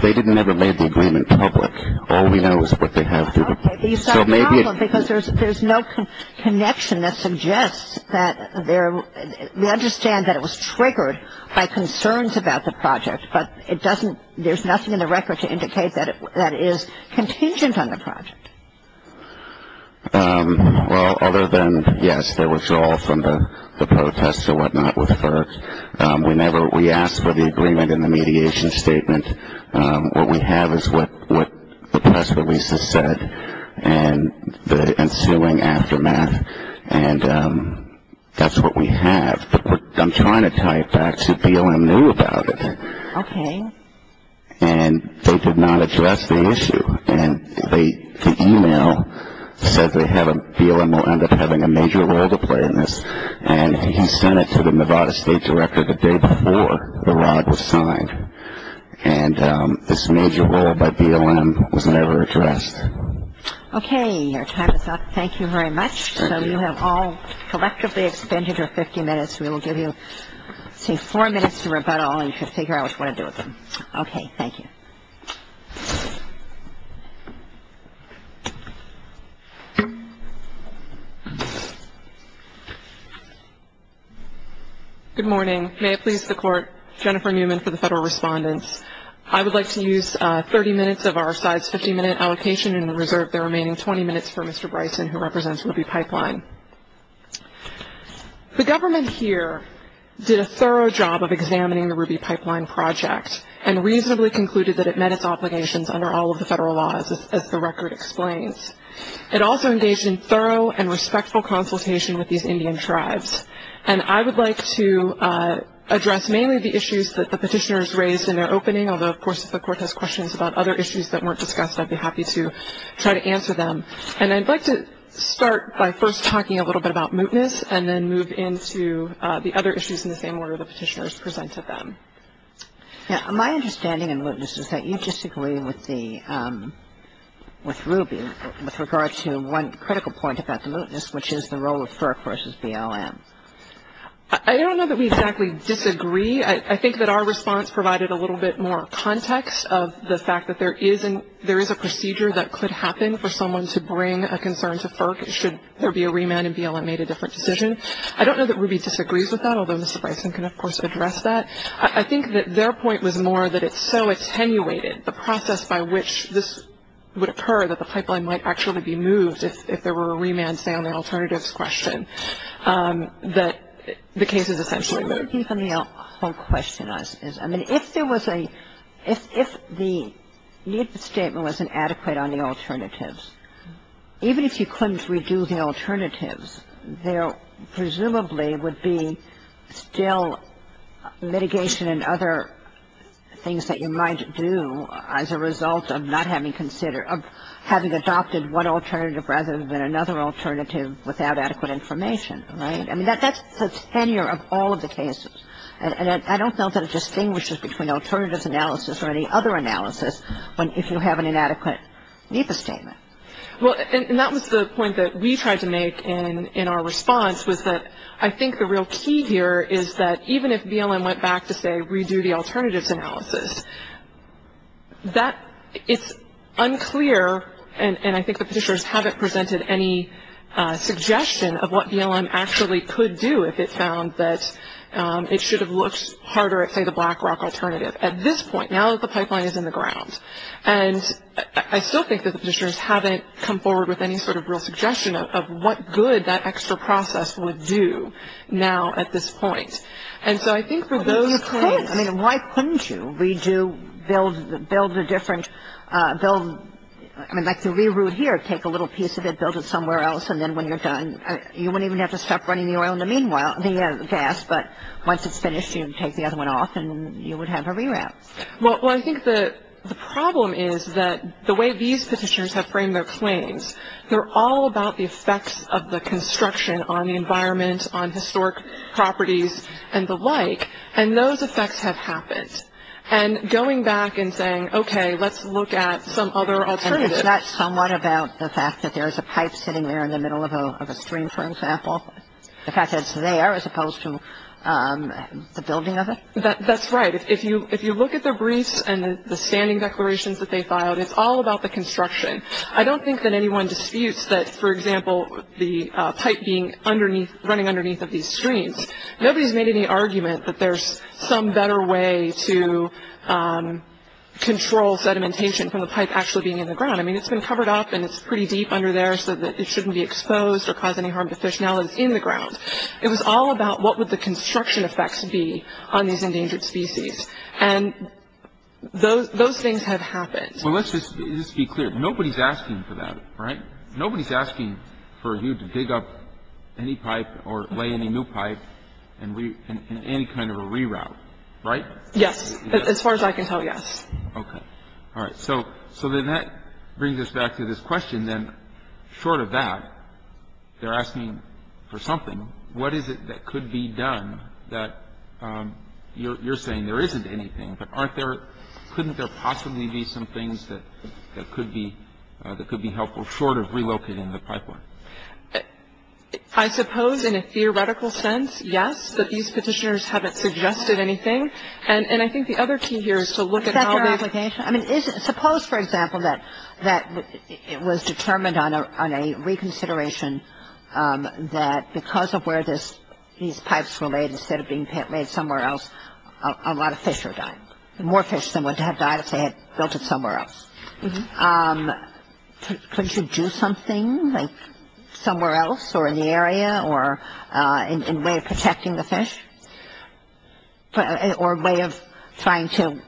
They didn't ever make the agreement public. All we know is what they have to do. These are powerful because there's no connection that suggests that they're, we understand that it was triggered by concerns about the project, but it doesn't, there's nothing in the record to indicate that it is contingent on the project. Well, other than, yes, the withdrawal from the protest or whatnot with FERC. We never, we asked for the agreement in the mediation statement. What we have is what the press releases said and the ensuing aftermath, and that's what we have. But I'm trying to tie it back to BLM knew about it. Okay. And they did not address the issue. And the e-mail said they had a, BLM will end up having a major role to play in this, and he sent it to the Nevada State Director the day before the ride was signed. And this major role by BLM was never addressed. Okay. Your time is up. Thank you very much. So you have all collectively expended your 50 minutes. We will give you, say, four minutes to rebuttal and to figure out what to do with them. Okay, thank you. Good morning. May it please the Court, Jennifer Newman for the Federal Respondents. I would like to use 30 minutes of our size 50-minute allocation and reserve the remaining 20 minutes for Mr. Bryson, who represents Ruby Pipeline. The government here did a thorough job of examining the Ruby Pipeline project and reasonably concluded that it met its obligations under all of the federal laws, as the record explains. It also engaged in thorough and respectful consultation with these Indian tribes. And I would like to address mainly the issues that the petitioners raised in their opening, although, of course, if the Court has questions about other issues that weren't discussed, I'd be happy to try to answer them. And I'd like to start by first talking a little bit about mootness and then move into the other issues in the same order the petitioners presented them. My understanding in mootness is that you disagree with Ruby with regard to one critical point about the mootness, which is the role of FERC versus BLM. I don't know that we exactly disagree. I think that our response provided a little bit more context of the fact that there is a procedure that could happen for someone to bring a concern to FERC should there be a remand and BLM made a different decision. I don't know that Ruby disagrees with that, although Mr. Bryson can, of course, address that. I think that their point was more that it's so attenuated, the process by which this would occur that the pipeline might actually be moved if there were a remand, say, on an alternatives question, that the case is essentially moot. I think even the whole question is, I mean, if there was a, if the statement wasn't adequate on the alternatives, even if you couldn't reduce the alternatives, there presumably would be still litigation and other things that you might do as a result of not having considered, of having adopted one alternative rather than another alternative without adequate information, right? I mean, that's the tenure of all of the cases, and I don't know that it distinguishes between alternative analysis or any other analysis if you have an inadequate NEPA statement. Well, and that was the point that we tried to make in our response, was that I think the real key here is that even if BLM went back to, say, redo the alternatives analysis, that is unclear, and I think the petitioners haven't presented any suggestion of what BLM actually could do if it found that it should have looked harder at, say, the BlackRock alternative at this point, now that the pipeline is in the ground. And I still think that the petitioners haven't come forward with any sort of real suggestion of what good that extra process would do now at this point. I mean, why couldn't you? We do build a different, like the reroute here, take a little piece of it, build it somewhere else, and then when you're done, you wouldn't even have to stop running the oil in the meanwhile, the gas, but once it's finished, you take the other one off and you would have a reroute. Well, I think the problem is that the way these petitioners have framed their claims, they're all about the effects of the construction on the environment, on historic properties, and the like, and those effects have happened. And going back and saying, okay, let's look at some other alternatives. And is that somewhat about the fact that there is a pipe sitting there in the middle of a stream, for example? The fact that it's there as opposed to the building of it? That's right. If you look at the brief and the standing declarations that they filed, it's all about the construction. I don't think that anyone disputes that, for example, the pipe running underneath of these streams, nobody's made any argument that there's some better way to control sedimentation from the pipe actually being in the ground. I mean, it's been covered up and it's pretty deep under there so that it shouldn't be exposed or cause any harm to fish now that it's in the ground. It was all about what would the construction effects be on these endangered species. And those things have happened. Well, let's just be clear. Nobody's asking for that, right? Nobody's asking for you to dig up any pipe or lay any new pipe in any kind of a reroute, right? Yes. As far as I can tell, yes. Okay. All right. So that brings us back to this question then. Short of that, they're asking for something. What is it that could be done that you're saying there isn't anything, but couldn't there possibly be some things that could be helpful short of rerouting in the pipeline? I suppose in a theoretical sense, yes, but these petitioners haven't suggested anything. And I think the other key here is to look at all the implications. I mean, suppose, for example, that it was determined on a reconsideration that because of where these pipes were laid instead of being laid somewhere else, a lot of fish are dying, more fish than would have died if they had built it somewhere else. Couldn't you do something like somewhere else or in the area or in a way of protecting the fish or a way of trying to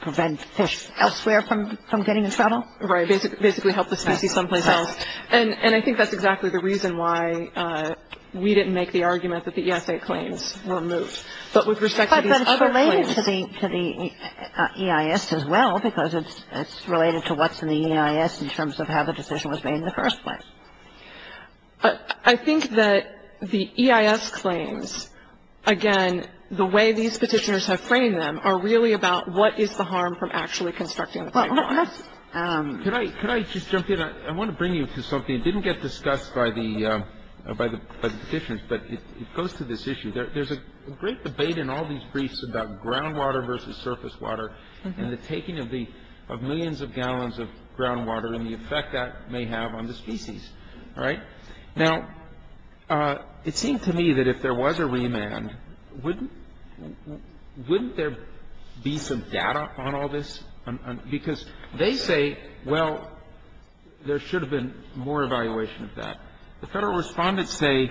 prevent fish elsewhere from getting in trouble? Right, basically help the species someplace else. And I think that's exactly the reason why we didn't make the argument that the EISA claims were moved. But with respect to the other claims. But then it's related to the EIS as well because it's related to what's in the EIS in terms of how the decision was made in the first place. I think that the EIS claims, again, the way these petitioners have framed them, are really about what is the harm from actually constructing the pipeline. Could I just jump in? I want to bring you to something that didn't get discussed by the petitioners, but it goes to this issue. There's a great debate in all these briefs about groundwater versus surface water and the taking of millions of gallons of groundwater and the effect that may have on the species, right? Now, it seemed to me that if there was a remand, wouldn't there be some data on all this? Because they say, well, there should have been more evaluation of that. The federal respondents say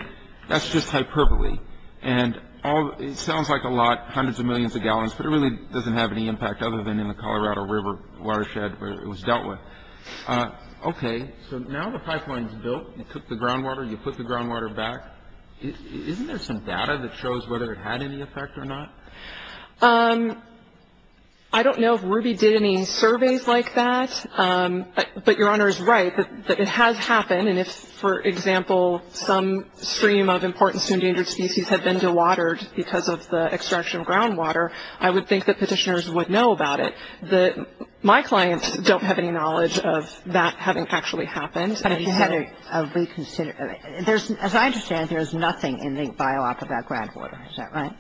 that's just hyperbole. And it sounds like a lot, hundreds of millions of gallons, but it really doesn't have any impact other than in the Colorado River watershed where it was dealt with. Okay, so now the pipeline's built. You took the groundwater, you put the groundwater back. Isn't there some data that shows whether it had any effect or not? I don't know if RUBY did any surveys like that, but Your Honor is right that it has happened. And if, for example, some stream of importance to endangered species had been to water just because of the extraction of groundwater, I would think that petitioners would know about it. My clients don't have any knowledge of that having actually happened. As I understand, there's nothing in the biolog of that groundwater. Is that right?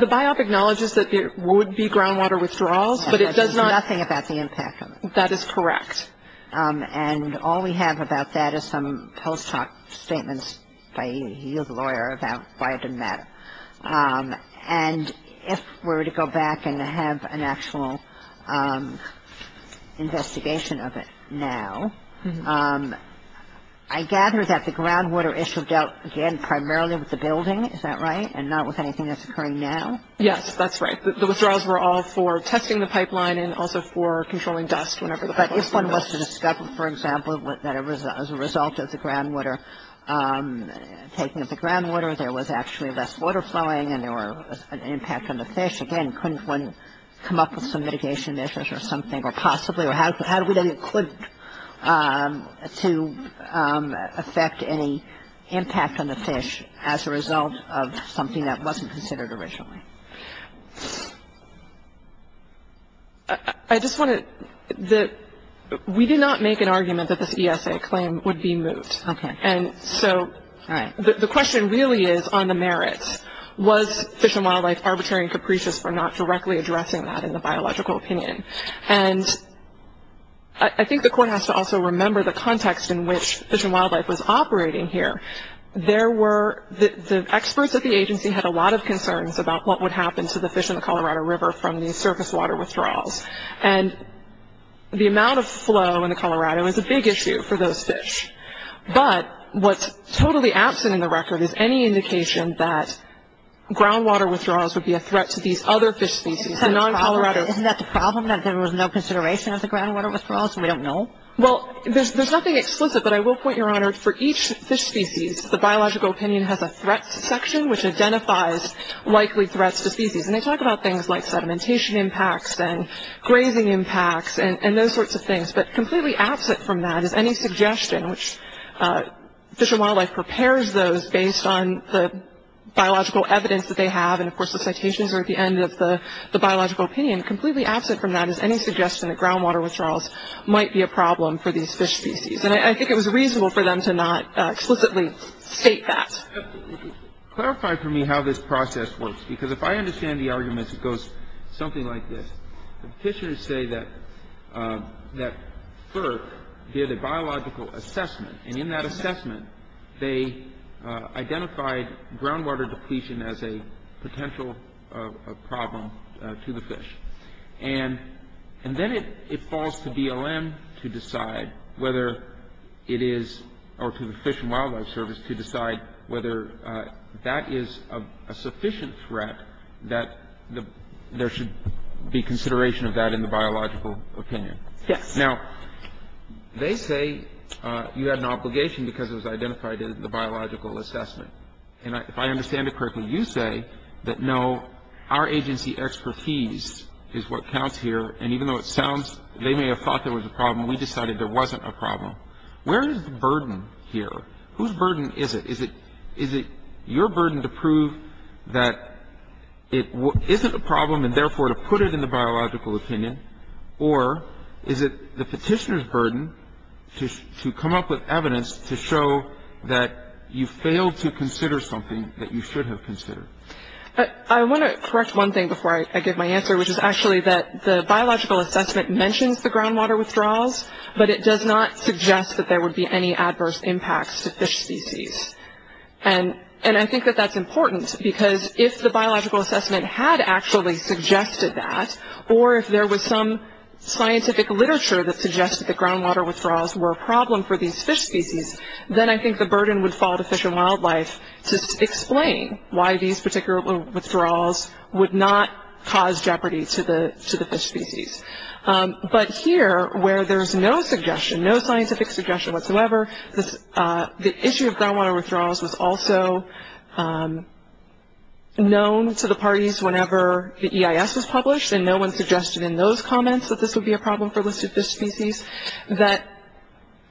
The biop acknowledges that there would be groundwater withdrawals, but it does not- There's nothing about the impact of it. That is correct. And all we have about that is some post hoc statements by you, the lawyer, about why it didn't matter. And if we're to go back and have an actual investigation of it now, I gather that the groundwater issue dealt again primarily with the building. Is that right? And not with anything that's occurring now? Yes, that's right. The withdrawals were all for testing the pipeline and also for controlling dust. But if one was to discover, for example, that as a result of the groundwater taken, if the groundwater there was actually less water flowing and there was an impact on the fish, again, couldn't one come up with some mitigation measures or something? Or how do we then equip to affect any impact on the fish as a result of something that wasn't considered originally? I just want to- we did not make an argument that this ESA claim would be moved. Okay. And so the question really is on the merits. Was Fish and Wildlife arbitrary and capricious for not directly addressing that in the biological opinion? And I think the court has to also remember the context in which Fish and Wildlife was operating here. There were- the experts at the agency had a lot of concerns about what would happen to the fish in the Colorado River from these surface water withdrawals. And the amount of flow in Colorado is a big issue for those fish. But what's totally absent in the record is any indication that groundwater withdrawals would be a threat to these other fish species, the non-Colorado- Isn't that the problem, that there was no consideration of the groundwater withdrawals and we don't know? Well, there's nothing explicit, but I will point your honor, for each fish species, the biological opinion has a threat section which identifies likely threats to species. And they talk about things like sedimentation impacts and grazing impacts and those sorts of things. But completely absent from that is any suggestion, which Fish and Wildlife prepares those based on the biological evidence that they have and, of course, the citations are at the end of the biological opinion. Completely absent from that is any suggestion that groundwater withdrawals might be a problem for these fish species. And I think it was reasonable for them to not explicitly state that. Clarify for me how this process works, because if I understand the arguments, it goes something like this. Fishers say that FERC did a biological assessment, and in that assessment, they identified groundwater depletion as a potential problem to the fish. And then it falls to BLM to decide whether it is, or to the Fish and Wildlife Service to decide whether that is a sufficient threat that there should be consideration of that in the biological opinion. Now, they say you had an obligation because it was identified as the biological assessment. And if I understand it correctly, you say that no, our agency expertise is what counts here, and even though it sounds, they may have thought there was a problem, we decided there wasn't a problem. Where is the burden here? Whose burden is it? Is it your burden to prove that it isn't a problem and therefore to put it in the biological opinion, or is it the petitioner's burden to come up with evidence to show that you failed to consider something that you should have considered? I want to correct one thing before I give my answer, which is actually that the biological assessment mentions the groundwater withdrawals, but it does not suggest that there would be any adverse impacts to fish species. And I think that that's important because if the biological assessment had actually suggested that, or if there was some scientific literature that suggested that groundwater withdrawals were a problem for these fish species, then I think the burden would fall to Fish and Wildlife to explain why these particular withdrawals would not cause jeopardy to the fish species. But here, where there's no suggestion, no scientific suggestion whatsoever, the issue of groundwater withdrawals was also known to the parties whenever the EIS was published, and no one suggested in those comments that this would be a problem for listed fish species, that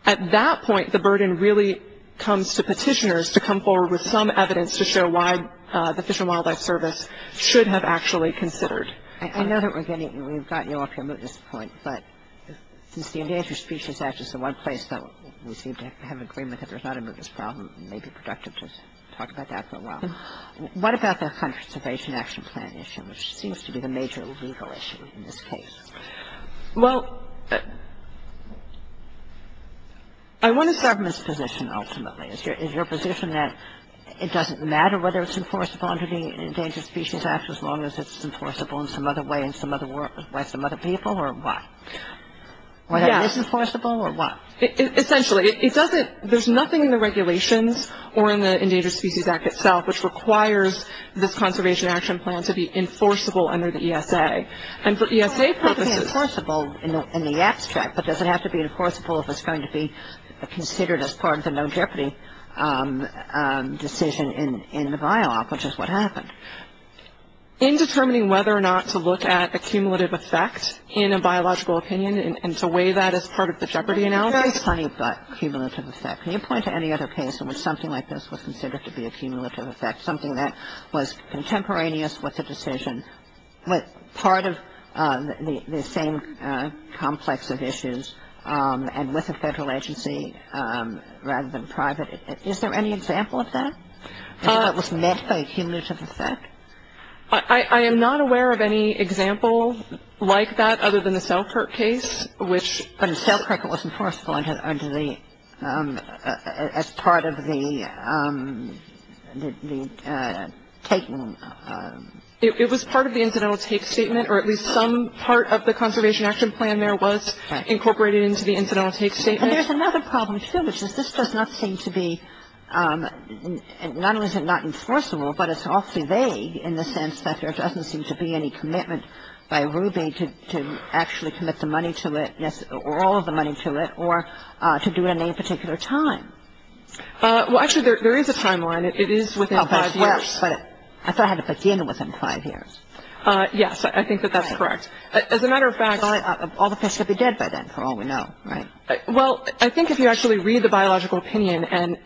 at that point the burden really comes to petitioners to come forward with some evidence to show why the Fish and Wildlife Service should have actually considered. I know that we've gotten you off your mootness point, but since the Endangered Species Act is the one place that we seem to have agreement that there's not a mootness problem, maybe productive to talk about that for a while. What about that conservation action plan issue, which seems to be the major legal issue in this case? Well, I want to start from this position, ultimately. Is your position that it doesn't matter whether it's enforceable under the Endangered Species Act as long as it's enforceable in some other way by some other people, or what? Yeah. Is it enforceable, or what? Essentially, there's nothing in the regulations or in the Endangered Species Act itself which requires the conservation action plan to be enforceable under the ESA. The ESA says it's enforceable in the abstract, but does it have to be enforceable if it's going to be considered as part of the no jeopardy decision in the bylaw, which is what happened. In determining whether or not to look at a cumulative effect in a biological opinion and to weigh that as part of the jeopardy analysis? Can you point to that cumulative effect? Can you point to any other case in which something like this was considered to be a cumulative effect, something that was contemporaneous with the decision, but part of the same complex of issues and with the federal agency rather than private? Is there any example of that? How it was met by a cumulative effect? I am not aware of any example like that other than the Selkirk case, which... Selkirk was enforceable as part of the taken... It was part of the incidental take statement, or at least some part of the conservation action plan there was incorporated into the incidental take statement. And there's another problem, too, which is this does not seem to be not only is it not enforceable, but it's awfully vague in the sense that there doesn't seem to be any commitment by Ruby to actually commit the money to it or all of the money to it or to do it at any particular time. Well, actually, there is a timeline. It is within five years. I thought it had to begin within five years. Yes, I think that that's correct. As a matter of fact... All the fish would be dead by then for all we know, right? Well, I think if you actually read the biological opinion and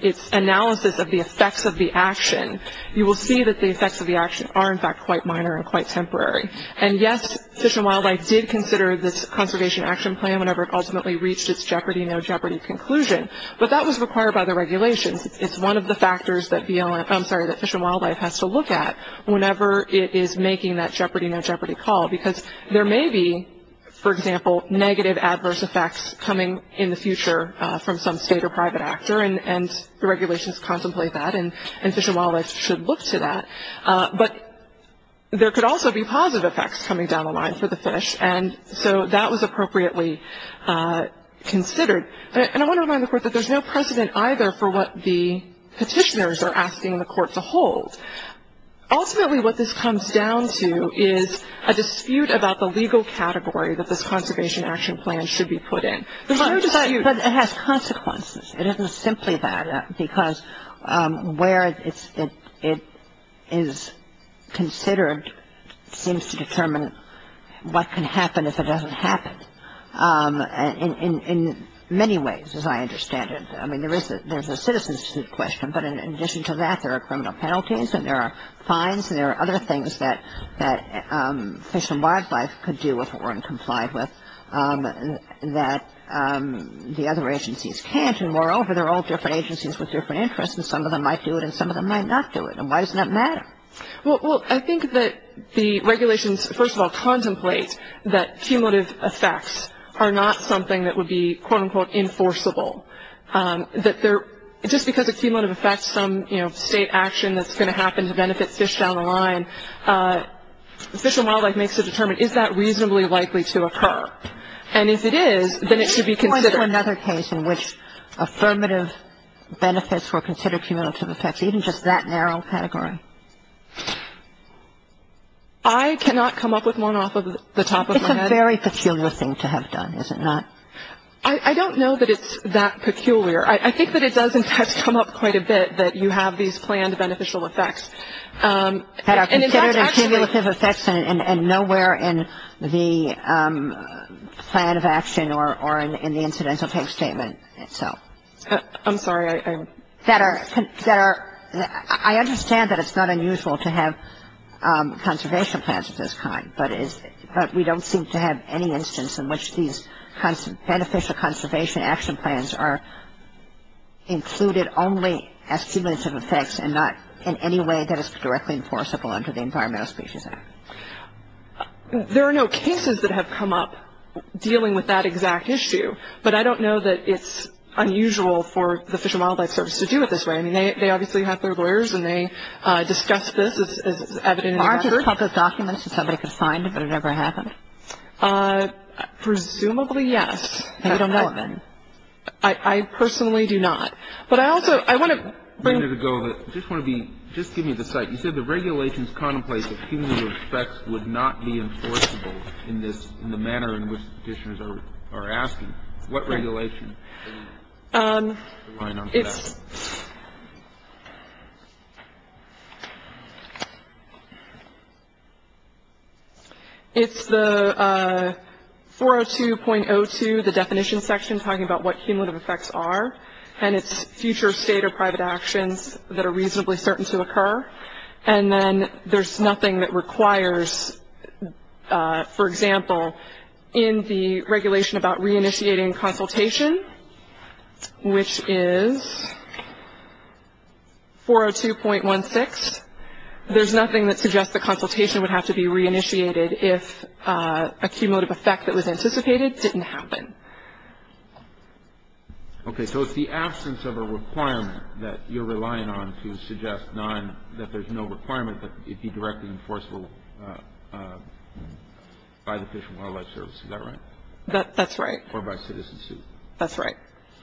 its analysis of the effects of the action, you will see that the effects of the action are, in fact, quite minor and quite temporary. And, yes, Fish and Wildlife did consider this conservation action plan whenever it ultimately reached its Jeopardy! No Jeopardy! conclusion, but that was required by the regulations. And it's one of the factors that Fish and Wildlife has to look at whenever it is making that Jeopardy! No Jeopardy! call because there may be, for example, negative adverse effects coming in the future from some state or private actor, and the regulations contemplate that, and Fish and Wildlife should look to that. But there could also be positive effects coming down the line for the fish, and so that was appropriately considered. And I want to remind the Court that there's no precedent either for what the petitioners are asking the Court to hold. Ultimately, what this comes down to is a dispute about the legal category that the conservation action plan should be put in. There's no dispute. But it has consequences. It isn't simply that, because where it is considered seems to determine what can happen if it doesn't happen. In many ways, as I understand it, I mean, there's a citizen's question, but in addition to that, there are criminal penalties, and there are fines, and there are other things that Fish and Wildlife could do if it weren't complied with that the other agencies can't. And moreover, they're all different agencies with different interests, and some of them might do it and some of them might not do it. And why doesn't that matter? Well, I think that the regulations, first of all, contemplate that cumulative effects are not something that would be, quote-unquote, enforceable. Just because a cumulative effect is some state action that's going to happen to benefit fish down the line, Fish and Wildlife makes the determination, is that reasonably likely to occur? And if it is, then it should be considered. Is there another case in which affirmative benefits were considered cumulative effects, even just that narrow category? I cannot come up with one off the top of my head. It's a very peculiar thing to have done, is it not? I don't know that it's that peculiar. I think that it does, in fact, come up quite a bit that you have these planned beneficial effects. That are considered as cumulative effects and nowhere in the plan of action or in the incidental case statement itself. I'm sorry. I understand that it's not unusual to have conservation plans of this kind, but we don't seem to have any instance in which these beneficial conservation action plans are included only as cumulative effects and not in any way that is directly enforceable under the Environmental Species Act. There are no cases that have come up dealing with that exact issue, but I don't know that it's unusual for the Fish and Wildlife Service to do it this way. I mean, they obviously have their lawyers and they discuss this as evident in the records. Aren't there plenty of documents that somebody could find, but it never happens? Presumably, yes. I don't know of any. I personally do not. I just wanted to give you the site. You said the regulations contemplate that cumulative effects would not be enforceable in the manner in which the petitioners are asking. What regulation? It's the 402.02, the definition section, talking about what cumulative effects are. And it's future state or private actions that are reasonably certain to occur. And then there's nothing that requires, for example, in the regulation about reinitiating consultation, which is 402.16, there's nothing that suggests that consultation would have to be reinitiated if a cumulative effect that was anticipated didn't happen. Okay, so it's the absence of a requirement that you're relying on to suggest that there's no requirement that it be directly enforceable by the Fish and Wildlife Service. Is that right? That's right. Or by citizenship? That's right.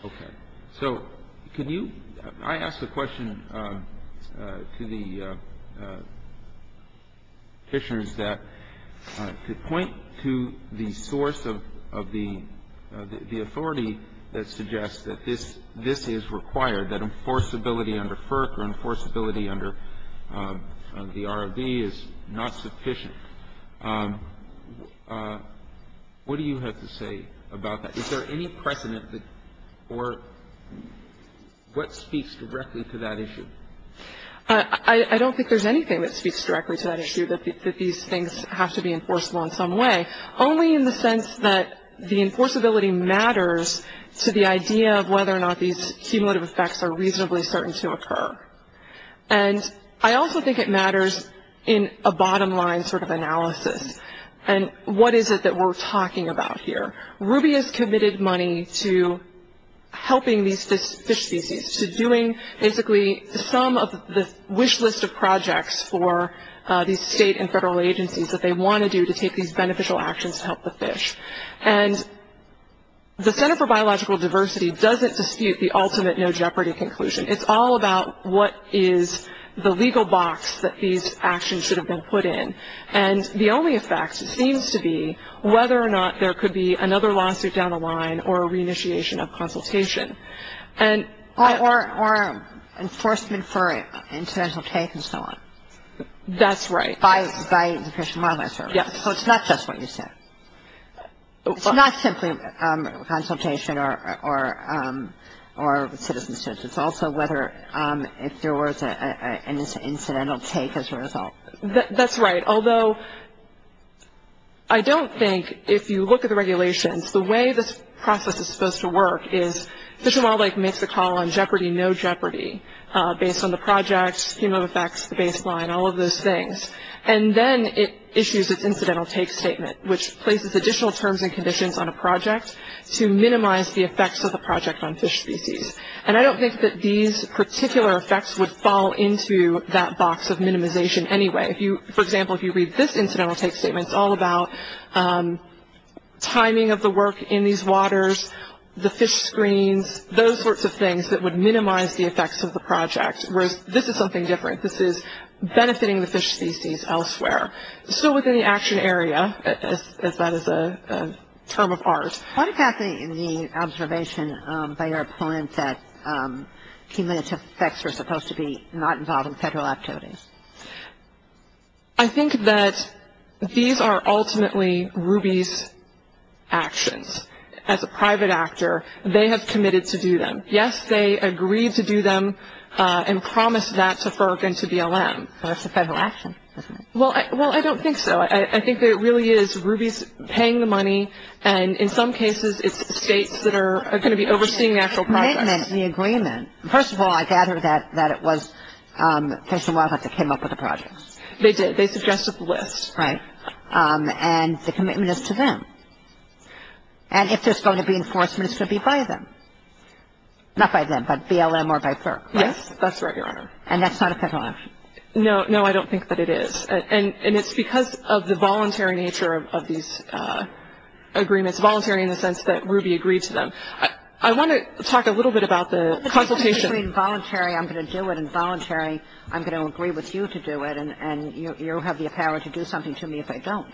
Okay. So I asked a question to the petitioners that could point to the source of the authority that suggests that this is required, that enforceability under FERC or enforceability under the ROV is not sufficient. What do you have to say about that? Is there any precedent for what speaks directly to that issue? I don't think there's anything that speaks directly to that issue, that these things have to be enforceable in some way, only in the sense that the enforceability matters to the idea of whether or not these cumulative effects are reasonably certain to occur. And I also think it matters in a bottom-line sort of analysis. And what is it that we're talking about here? Ruby has committed money to helping these fish species, to doing basically some of the wish list of projects for these state and federal agencies that they want to do to take these beneficial actions to help the fish. And the Center for Biological Diversity doesn't dispute the ultimate no jeopardy conclusion. It's all about what is the legal box that these actions should have been put in. And the only effect seems to be whether or not there could be another lawsuit down the line or a re-initiation of consultation. Or enforcement for an incidental case and so on. That's right. By the Fish and Wildlife Service. Yes. So it's not just what you said. It's not simply consultation or citizens. It's also whether if there was an incidental case as a result. That's right. Although I don't think if you look at the regulations, the way this process is supposed to work is Fish and Wildlife makes the call on jeopardy, no jeopardy, based on the project, scheme of effects, baseline, all of those things. And then it issues its incidental take statement, which places additional terms and conditions on a project to minimize the effects of the project on fish species. And I don't think that these particular effects would fall into that box of minimization anyway. For example, if you read this incidental take statement, it's all about timing of the work in these waters, the fish screens, those sorts of things that would minimize the effects of the project. Whereas this is something different. This is benefiting the fish species elsewhere. So within the action area, as that is a term of ours. I'm fascinated in the observation by your opponent that cumulative effects are supposed to be not involved in federal activities. I think that these are ultimately RUBY's actions. As a private actor, they have committed to do them. Yes, they agreed to do them and promised that to FERC and to BLM. That's a federal action. Well, I don't think so. I think that it really is RUBY paying the money. And in some cases, it's states that are going to be overseeing the actual project. The agreement. First of all, I gather that it was Fish and Wildlife that came up with the projects. They did. They suggested the list. Right. And the commitment is to them. And if there's going to be enforcement, it should be by them. Not by them, but BLM or by FERC, right? Yes, that's right, Your Honor. And that's not a federal action? No, I don't think that it is. And it's because of the voluntary nature of these agreements. Voluntary in the sense that RUBY agreed to them. I want to talk a little bit about the consultation. If it's voluntary, I'm going to do it. And voluntary, I'm going to agree with you to do it. And you have the power to do something to me if I don't.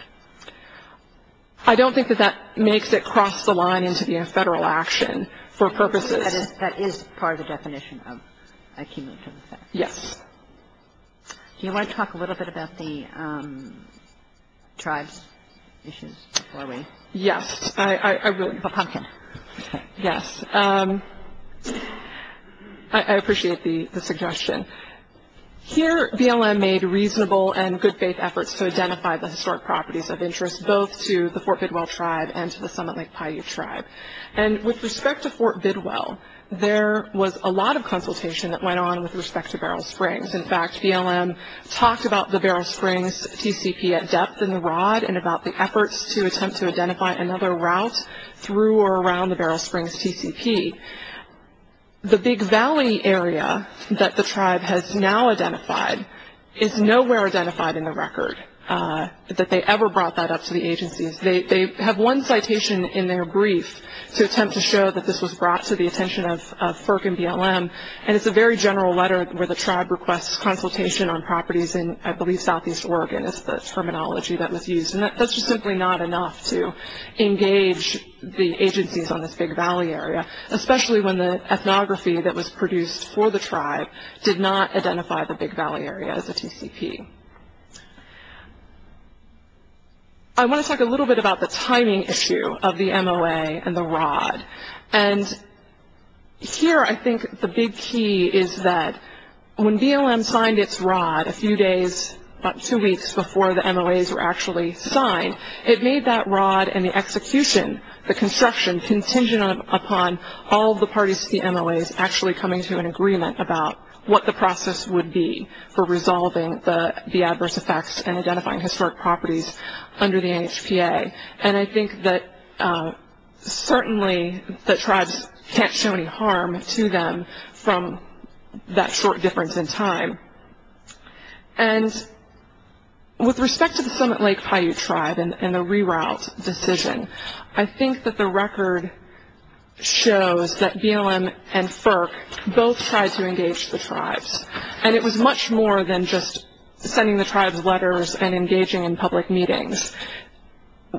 I don't think that that makes it cross the line into being a federal action for purposes. That is part of the definition of a commitment. Yes. Do you want to talk a little bit about the tribe issues? Yes. I will. Yes. I appreciate the suggestion. Here, BLM made reasonable and good faith efforts to identify the historic properties of interest, both to the Fort Bidwell tribe and to the Summit Lake Paiute tribe. And with respect to Fort Bidwell, there was a lot of consultation that went on with respect to Beryl Springs. In fact, BLM talked about the Beryl Springs TCP at depth in the ROD and about the efforts to attempt to identify another route through or around the Beryl Springs TCP. The Big Valley area that the tribe has now identified is nowhere identified in the record that they ever brought that up to the agencies. They have one citation in their brief to attempt to show that this was brought to the attention of FERC and BLM. And it's a very general letter where the tribe requests consultation on properties in, I believe, southeast Oregon is the terminology that was used. And that's just simply not enough to engage the agencies on this Big Valley area, especially when the ethnography that was produced for the tribe did not identify the Big Valley area as a TCP. I want to talk a little bit about the timing issue of the MOA and the ROD. And here I think the big key is that when BLM signed its ROD a few days, about two weeks before the MOAs were actually signed, it made that ROD and the execution, the construction contingent upon all the parties to the MOAs actually coming to an agreement about what the process would be for resolving the adverse effects and identifying historic properties under the NHPA. And I think that certainly the tribes can't show any harm to them from that short difference in time. And with respect to the Summit Lake Paiute tribe and the reroute decision, I think that the record shows that BLM and FERC both tried to engage the tribes. And it was much more than just sending the tribes letters and engaging in public meetings.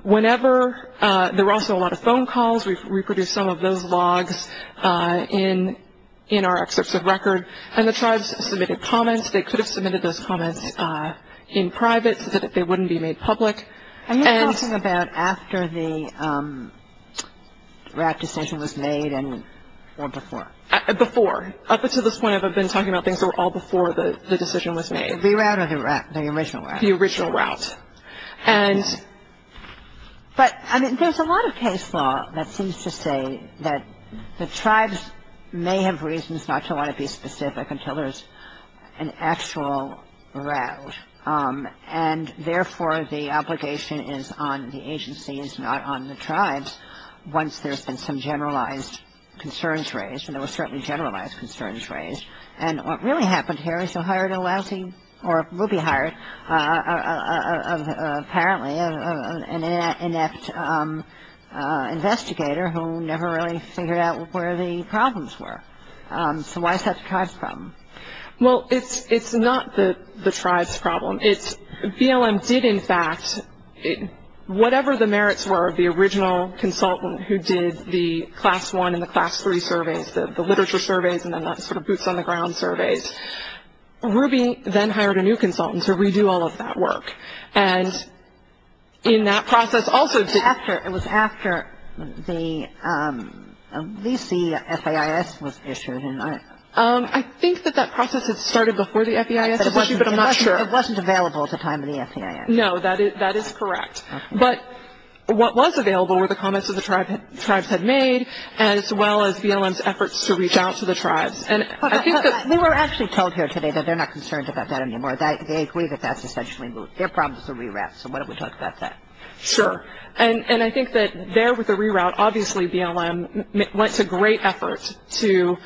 There were also a lot of phone calls. We've reproduced some of those logs in our excerpts of record. And the tribes submitted comments. They could have submitted those comments in private so that they wouldn't be made public. And you're talking about after the route decision was made or before? Before. Up until this point I've been talking about things that were all before the decision was made. The reroute or the original route? The original route. But there's a lot of case law that seems to say that the tribes may have reasons not to want to be specific until there's an actual route. And, therefore, the obligation is on the agencies, not on the tribes, once there's been some generalized concerns raised. And there were certainly generalized concerns raised. And what really happened here is you hired a lousy or would be hired, apparently, an inept investigator who never really figured out where the problems were. So why is that a tribe problem? Well, it's not the tribe's problem. BLM did, in fact, whatever the merits were of the original consultant who did the Class I and the Class III surveys, the literature surveys and then the sort of boots on the ground surveys, Ruby then hired a new consultant to redo all of that work. And in that process also did... It was after the VC FAIS was issued. I think that that process had started before the FAIS. It wasn't available at the time of the FAIS. No, that is correct. But what was available were the comments that the tribes had made, as well as BLM's efforts to reach out to the tribes. And I think that... They were actually told here today that they're not concerned about that anymore. They agree that that's essentially their problem is the reroute. So why don't we talk about that? Sure. And I think that there with the reroute, obviously BLM went to great efforts to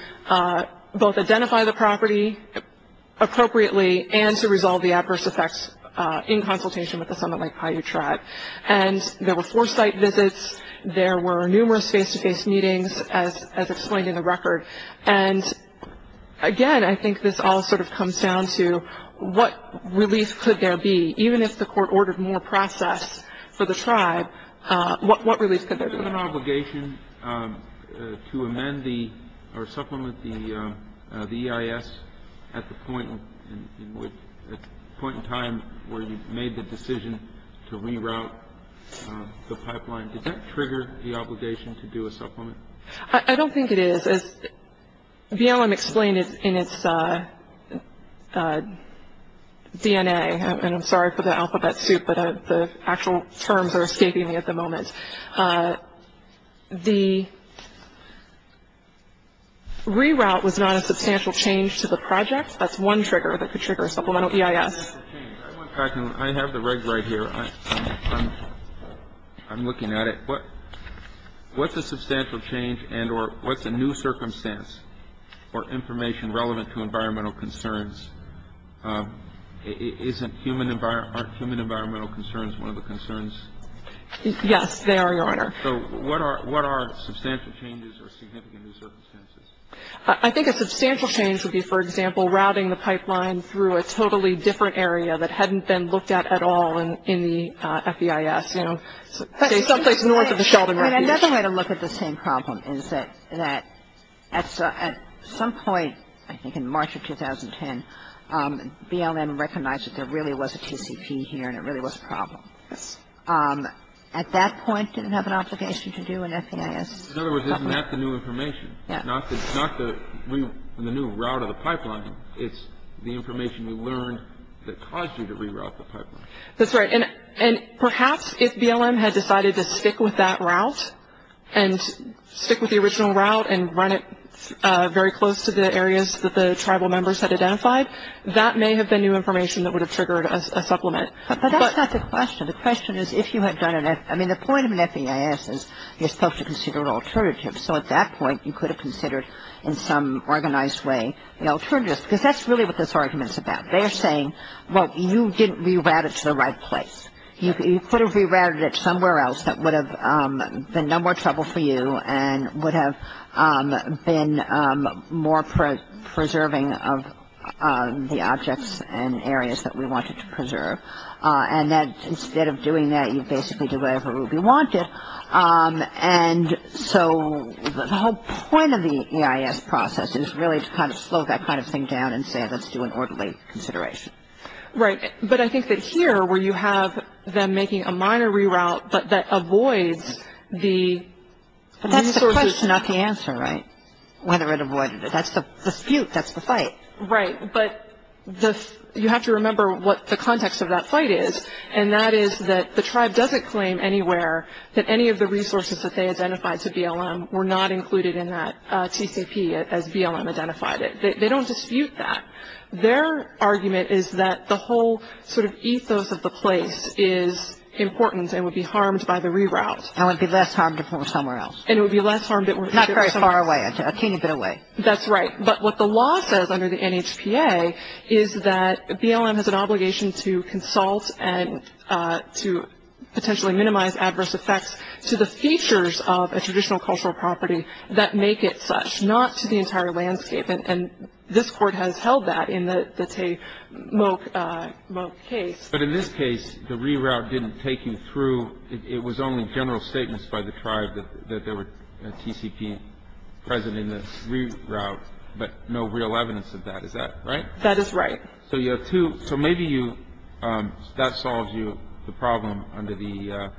both identify the property appropriately and to resolve the adverse effects in consultation with the Summit Lake Paiute tribe. And there were four-site visits. There were numerous face-to-face meetings, as explained in the record. And, again, I think this all sort of comes down to what release could there be? Even if the court ordered more process for the tribe, what release could there be? Was there an obligation to amend or supplement the EIS at the point in time where you made the decision to reroute the pipeline? Did that trigger the obligation to do a supplement? I don't think it is. BLM explained it in its DNA. And I'm sorry for the alphabet soup, but the actual terms are escaping me at the moment. The reroute was not a substantial change to the project. That's one trigger that could trigger a supplemental EIS. I have the reg right here. I'm looking at it. What's a substantial change and or what's a new circumstance for information relevant to environmental concerns? Isn't human environmental concerns one of the concerns? Yes, they are, Your Honor. So what are substantial changes or significant new circumstances? I think a substantial change would be, for example, routing the pipeline through a totally different area that hadn't been looked at at all in the FEIS. I mean, another way to look at the same problem is that at some point, I think in March of 2010, BLM recognized that there really was a TCP here and it really was a problem. At that point, it didn't have an obligation to do anything. In other words, isn't that the new information? Not the new route of the pipeline. It's the information you learned that caused you to reroute the pipeline. That's right. And perhaps if BLM had decided to stick with that route and stick with the original route and run it very close to the areas that the tribal members had identified, that may have been new information that would have triggered a supplement. But that's not the question. The question is if you had done it. I mean, the point of FEIS is you're supposed to consider an alternative. So at that point, you could have considered in some organized way the alternative. Because that's really what this argument is about. They're saying, look, you didn't reroute it to the right place. You could have rerouted it somewhere else that would have been no more trouble for you and would have been more preserving of the objects and areas that we wanted to preserve. And instead of doing that, you basically do whatever Ruby wanted. And so the whole point of the EIS process is really to kind of slow that kind of thing down and say let's do an orderly consideration. Right. But I think that here where you have them making a minor reroute that avoids the resources. But that's the question, not the answer, right? Whether it avoided it. That's the dispute. That's the fight. Right. But you have to remember what the context of that fight is. And that is that the tribe doesn't claim anywhere that any of the resources that they identified to BLM were not included in that TCP as BLM identified it. They don't dispute that. Their argument is that the whole sort of ethos of the place is important and would be harmed by the reroute. And would be less harmed if it were somewhere else. And it would be less harmed if it were somewhere else. Not quite far away. A teeny bit away. That's right. But what the law says under the NHPA is that BLM has an obligation to consult and to potentially minimize adverse effects to the features of a traditional cultural property that make it such. Not to the entire landscape. And this court has held that in the Tay-Moak case. But in this case, the reroute didn't take you through. It was only general statements by the tribe that there were TCP present in the reroute. But no real evidence of that. Is that right? That is right. So you have two. So maybe that solves you the problem under the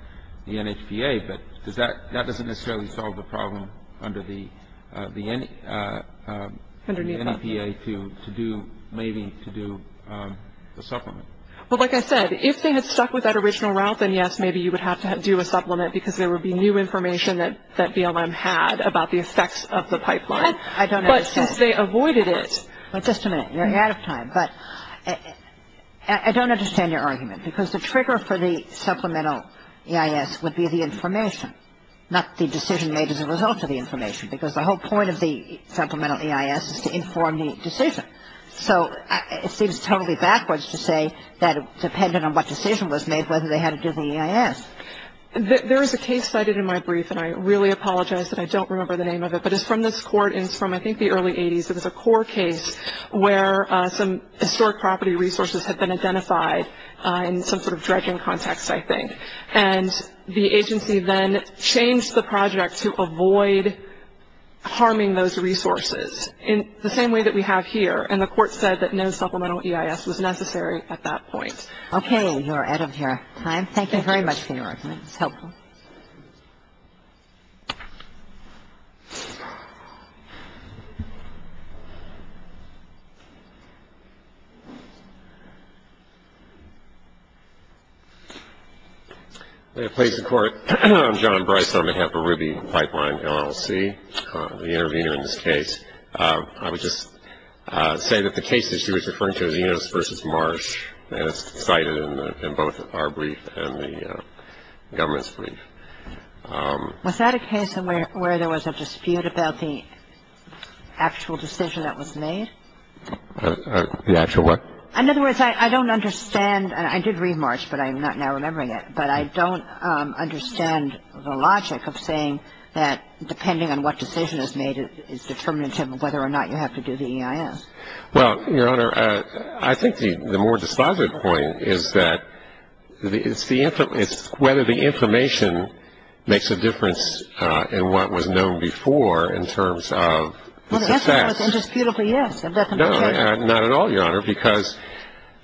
NHPA. But that doesn't necessarily solve the problem under the NHPA to do maybe to do a supplement. Well, like I said, if they had stuck with that original route, then yes, maybe you would have to do a supplement because there would be new information that BLM had about the effects of the pipeline. I don't understand. But since they avoided it. Just a minute. You're ahead of time. I don't understand your argument. Because the trigger for the supplemental EIS would be the information. Not the decision made as a result of the information. Because the whole point of the supplemental EIS is to inform the decision. So it seems totally backwards to say that it depended on what decision was made whether they had to do the EIS. There is a case cited in my brief, and I really apologize that I don't remember the name of it. But it's from this court. And it's from, I think, the early 80s. It was a core case where some historic property resources had been identified in some sort of dredging context, I think. And the agency then changed the project to avoid harming those resources in the same way that we have here. And the court said that no supplemental EIS was necessary at that point. Okay. You are ahead of your time. Thank you very much for your argument. It's helpful. Thank you. May it please the Court. I'm John Bryce on behalf of Ruby Pipeline LLC, the intervener in this case. I would just say that the case that she was referring to, the Eunice v. Marsh, is cited in both our brief and the government's brief. Was that a case where there was a dispute about the actual decision that was made? The actual what? In other words, I don't understand. I did read Marsh, but I am not now remembering it. But I don't understand the logic of saying that depending on what decision is made, it's determined whether or not you have to do the EIS. Well, Your Honor, I think the more dispositive point is that it's whether the information makes a difference in what was known before in terms of the fact. Well, that's not what the dispute is. No, not at all, Your Honor, because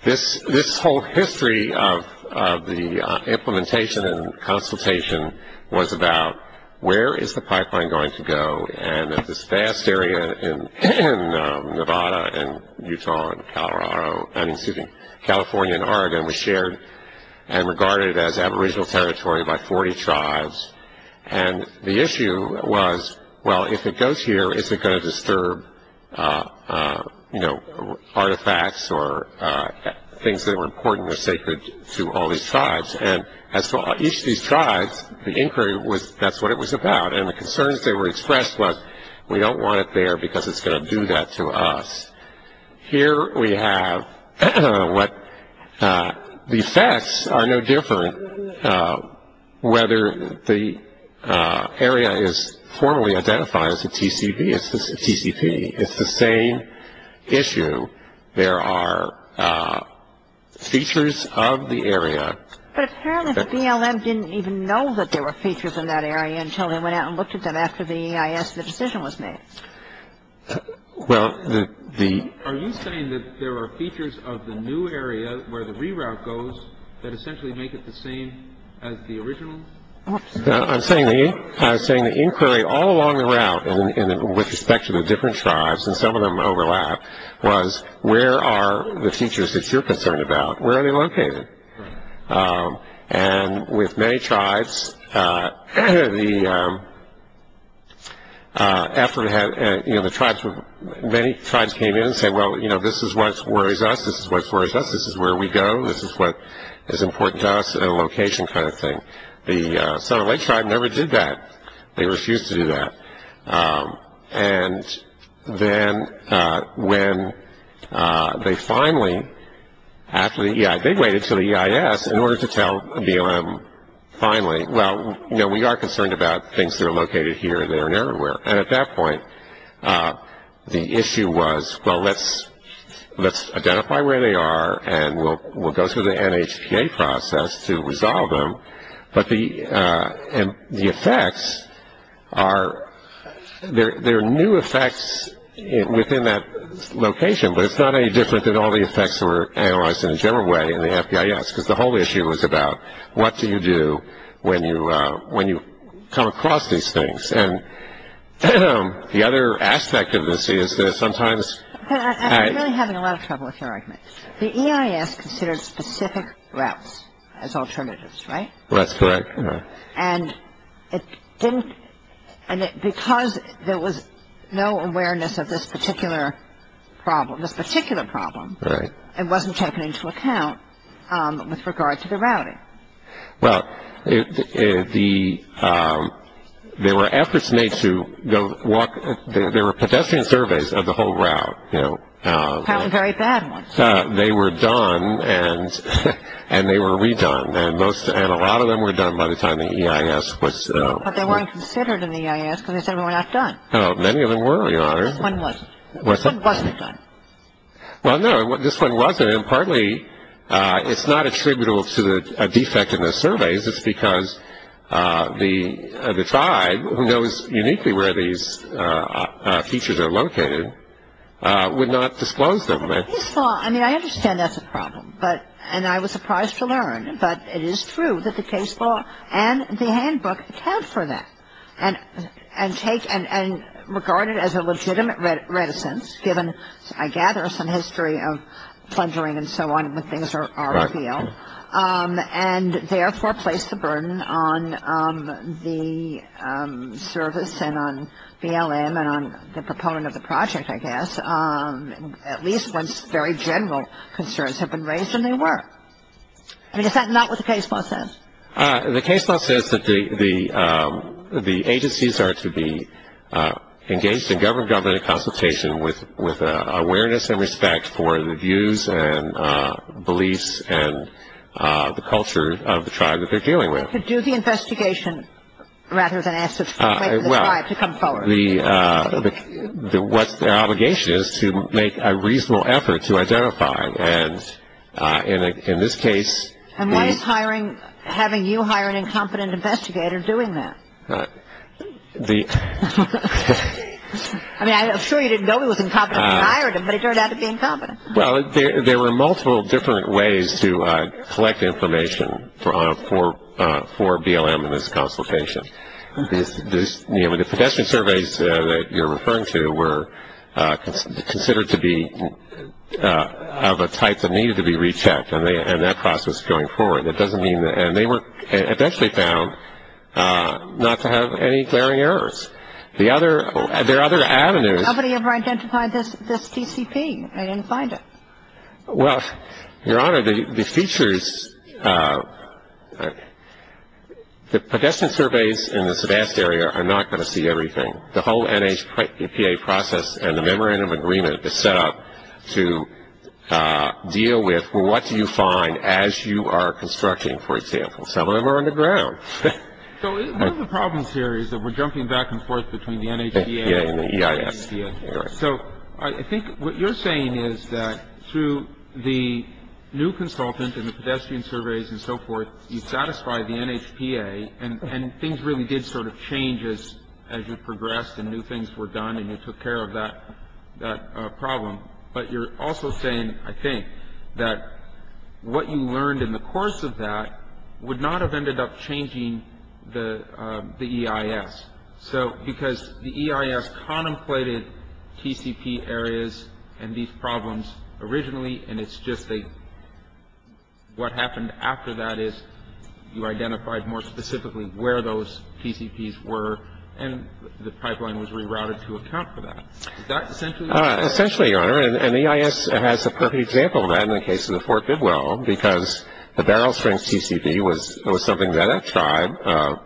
this whole history of the implementation and consultation was about where is the pipeline going to go, and this vast area in Nevada and Utah and California and Oregon was shared and regarded as aboriginal territory by 40 tribes. And the issue was, well, if it goes here, is it going to disturb artifacts or things that were important or sacred to all these tribes? And as for each of these tribes, the inquiry was that's what it was about, and the concerns that were expressed was we don't want it there because it's going to do that to us. Here we have what the effects are no different whether the area is formally identified as a TCP. It's the same issue. There are features of the area. But apparently the BLM didn't even know that there were features in that area until they went out and looked at them after the EIS decision was made. Are you saying that there were features of the new area where the reroute goes that essentially make it the same as the original? I'm saying the inquiry all along the route with respect to the different tribes, and some of them overlap, was where are the features that you're concerned about, where are they located? And with many tribes, many tribes came in and said, well, you know, this is what worries us. This is what worries us. This is where we go. This is what is important to us in a location kind of thing. The Sonoma Lake tribe never did that. They refused to do that. And then when they finally, after the EIS, they waited until the EIS in order to tell BLM finally, well, you know, we are concerned about things that are located here, there, and everywhere. And at that point, the issue was, well, let's identify where they are and we'll go through the NHPA process to resolve them. But the effects are, there are new effects within that location, but it's not any different than all the effects that were analyzed in a general way in the FDIS, because the whole issue was about what do you do when you come across these things? And the other aspect of this is that sometimes. I'm really having a lot of trouble with your argument. The EIS considered specific routes as alternatives, right? That's correct. And because there was no awareness of this particular problem, it wasn't taken into account with regard to the routing. Well, there were efforts made to walk, there were pedestrian surveys of the whole route. Very bad ones. They were done and they were redone. And a lot of them were done by the time the EIS was. But they weren't considered in the EIS because they said they were not done. Many of them were, Your Honor. This one was. What's that? This one wasn't. Well, no, this one wasn't. And partly it's not attributable to a defect in the surveys. It's because the side who knows uniquely where these features are located would not disclose them. The case law, I mean, I understand that's a problem, and I was surprised to learn, but it is true that the case law and the handbook account for that and regard it as a legitimate reticence given, I gather, some history of plundering and so on when things are revealed and therefore place the burden on the service and on BLM and on the proponent of the project, I guess, at least when very general concerns have been raised and they were. Is that not what the case law says? The case law says that the agencies are to be engaged in government-to-government consultation with an awareness and respect for the views and beliefs and the culture of the tribe that they're dealing with. To do the investigation rather than ask the tribe to come forward. Well, what their obligation is to make a reasonable effort to identify, and in this case. And what is hiring, having you hire an incompetent investigator doing that? The. I mean, I'm sure you didn't go with incompetent hiring, but it turned out to be incompetent. Well, there were multiple different ways to collect information for BLM and its consultation. The professional surveys that you're referring to were considered to be of a type that needed to be rechecked, and that process going forward. And they were eventually found not to have any glaring errors. There are other avenues. Nobody ever identified this TCP and didn't find it. Well, Your Honor, the features, the pedestrian surveys in the Sevast area are not going to see everything. The whole NHPA process and the memorandum agreement is set up to deal with what you find as you are constructing, for example. Some of them are underground. So one of the problems here is that we're jumping back and forth between the NHPA and the EIS. So I think what you're saying is that through the new consultants and the pedestrian surveys and so forth, you've satisfied the NHPA, and things really did sort of change as you progressed and new things were done and you took care of that problem. But you're also saying, I think, that what you learned in the course of that would not have ended up changing the EIS. So because the EIS contemplated TCP areas and these problems originally, and it's just what happened after that is you identified more specifically where those TCPs were, and the pipeline was rerouted to account for that. Essentially, and the EIS has a perfect example of that in the case of the Fort Goodwill, because the barrel-strength TCP was something that that tribe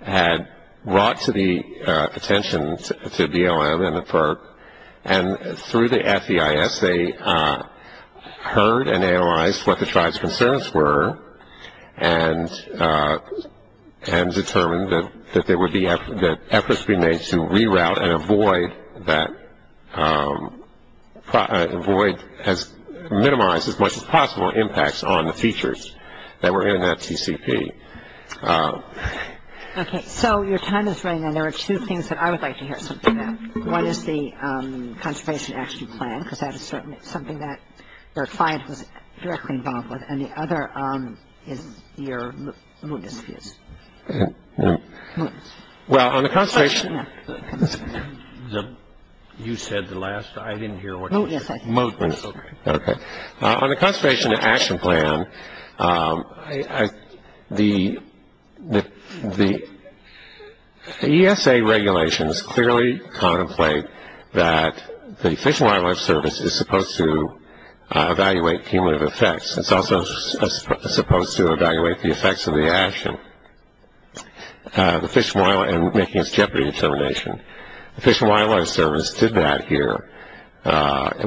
had brought to the attention to DLM and the FERC, and through the FDIS they heard and analyzed what the tribe's concerns were and determined that there would be efforts being made to reroute and avoid that, minimize as much as possible impacts on the features that were in that TCP. Okay. So your time is running out. There are two things that I would like to hear something about. One is the conservation action plan, because that is something that our clients were directly involved with, and the other is your movement. Well, on the conservation action plan, the ESA regulations clearly contemplate that the Fish and Wildlife Service is supposed to evaluate cumulative effects. It's also supposed to evaluate the effects of the action and making its jeopardy determination. The Fish and Wildlife Service did that here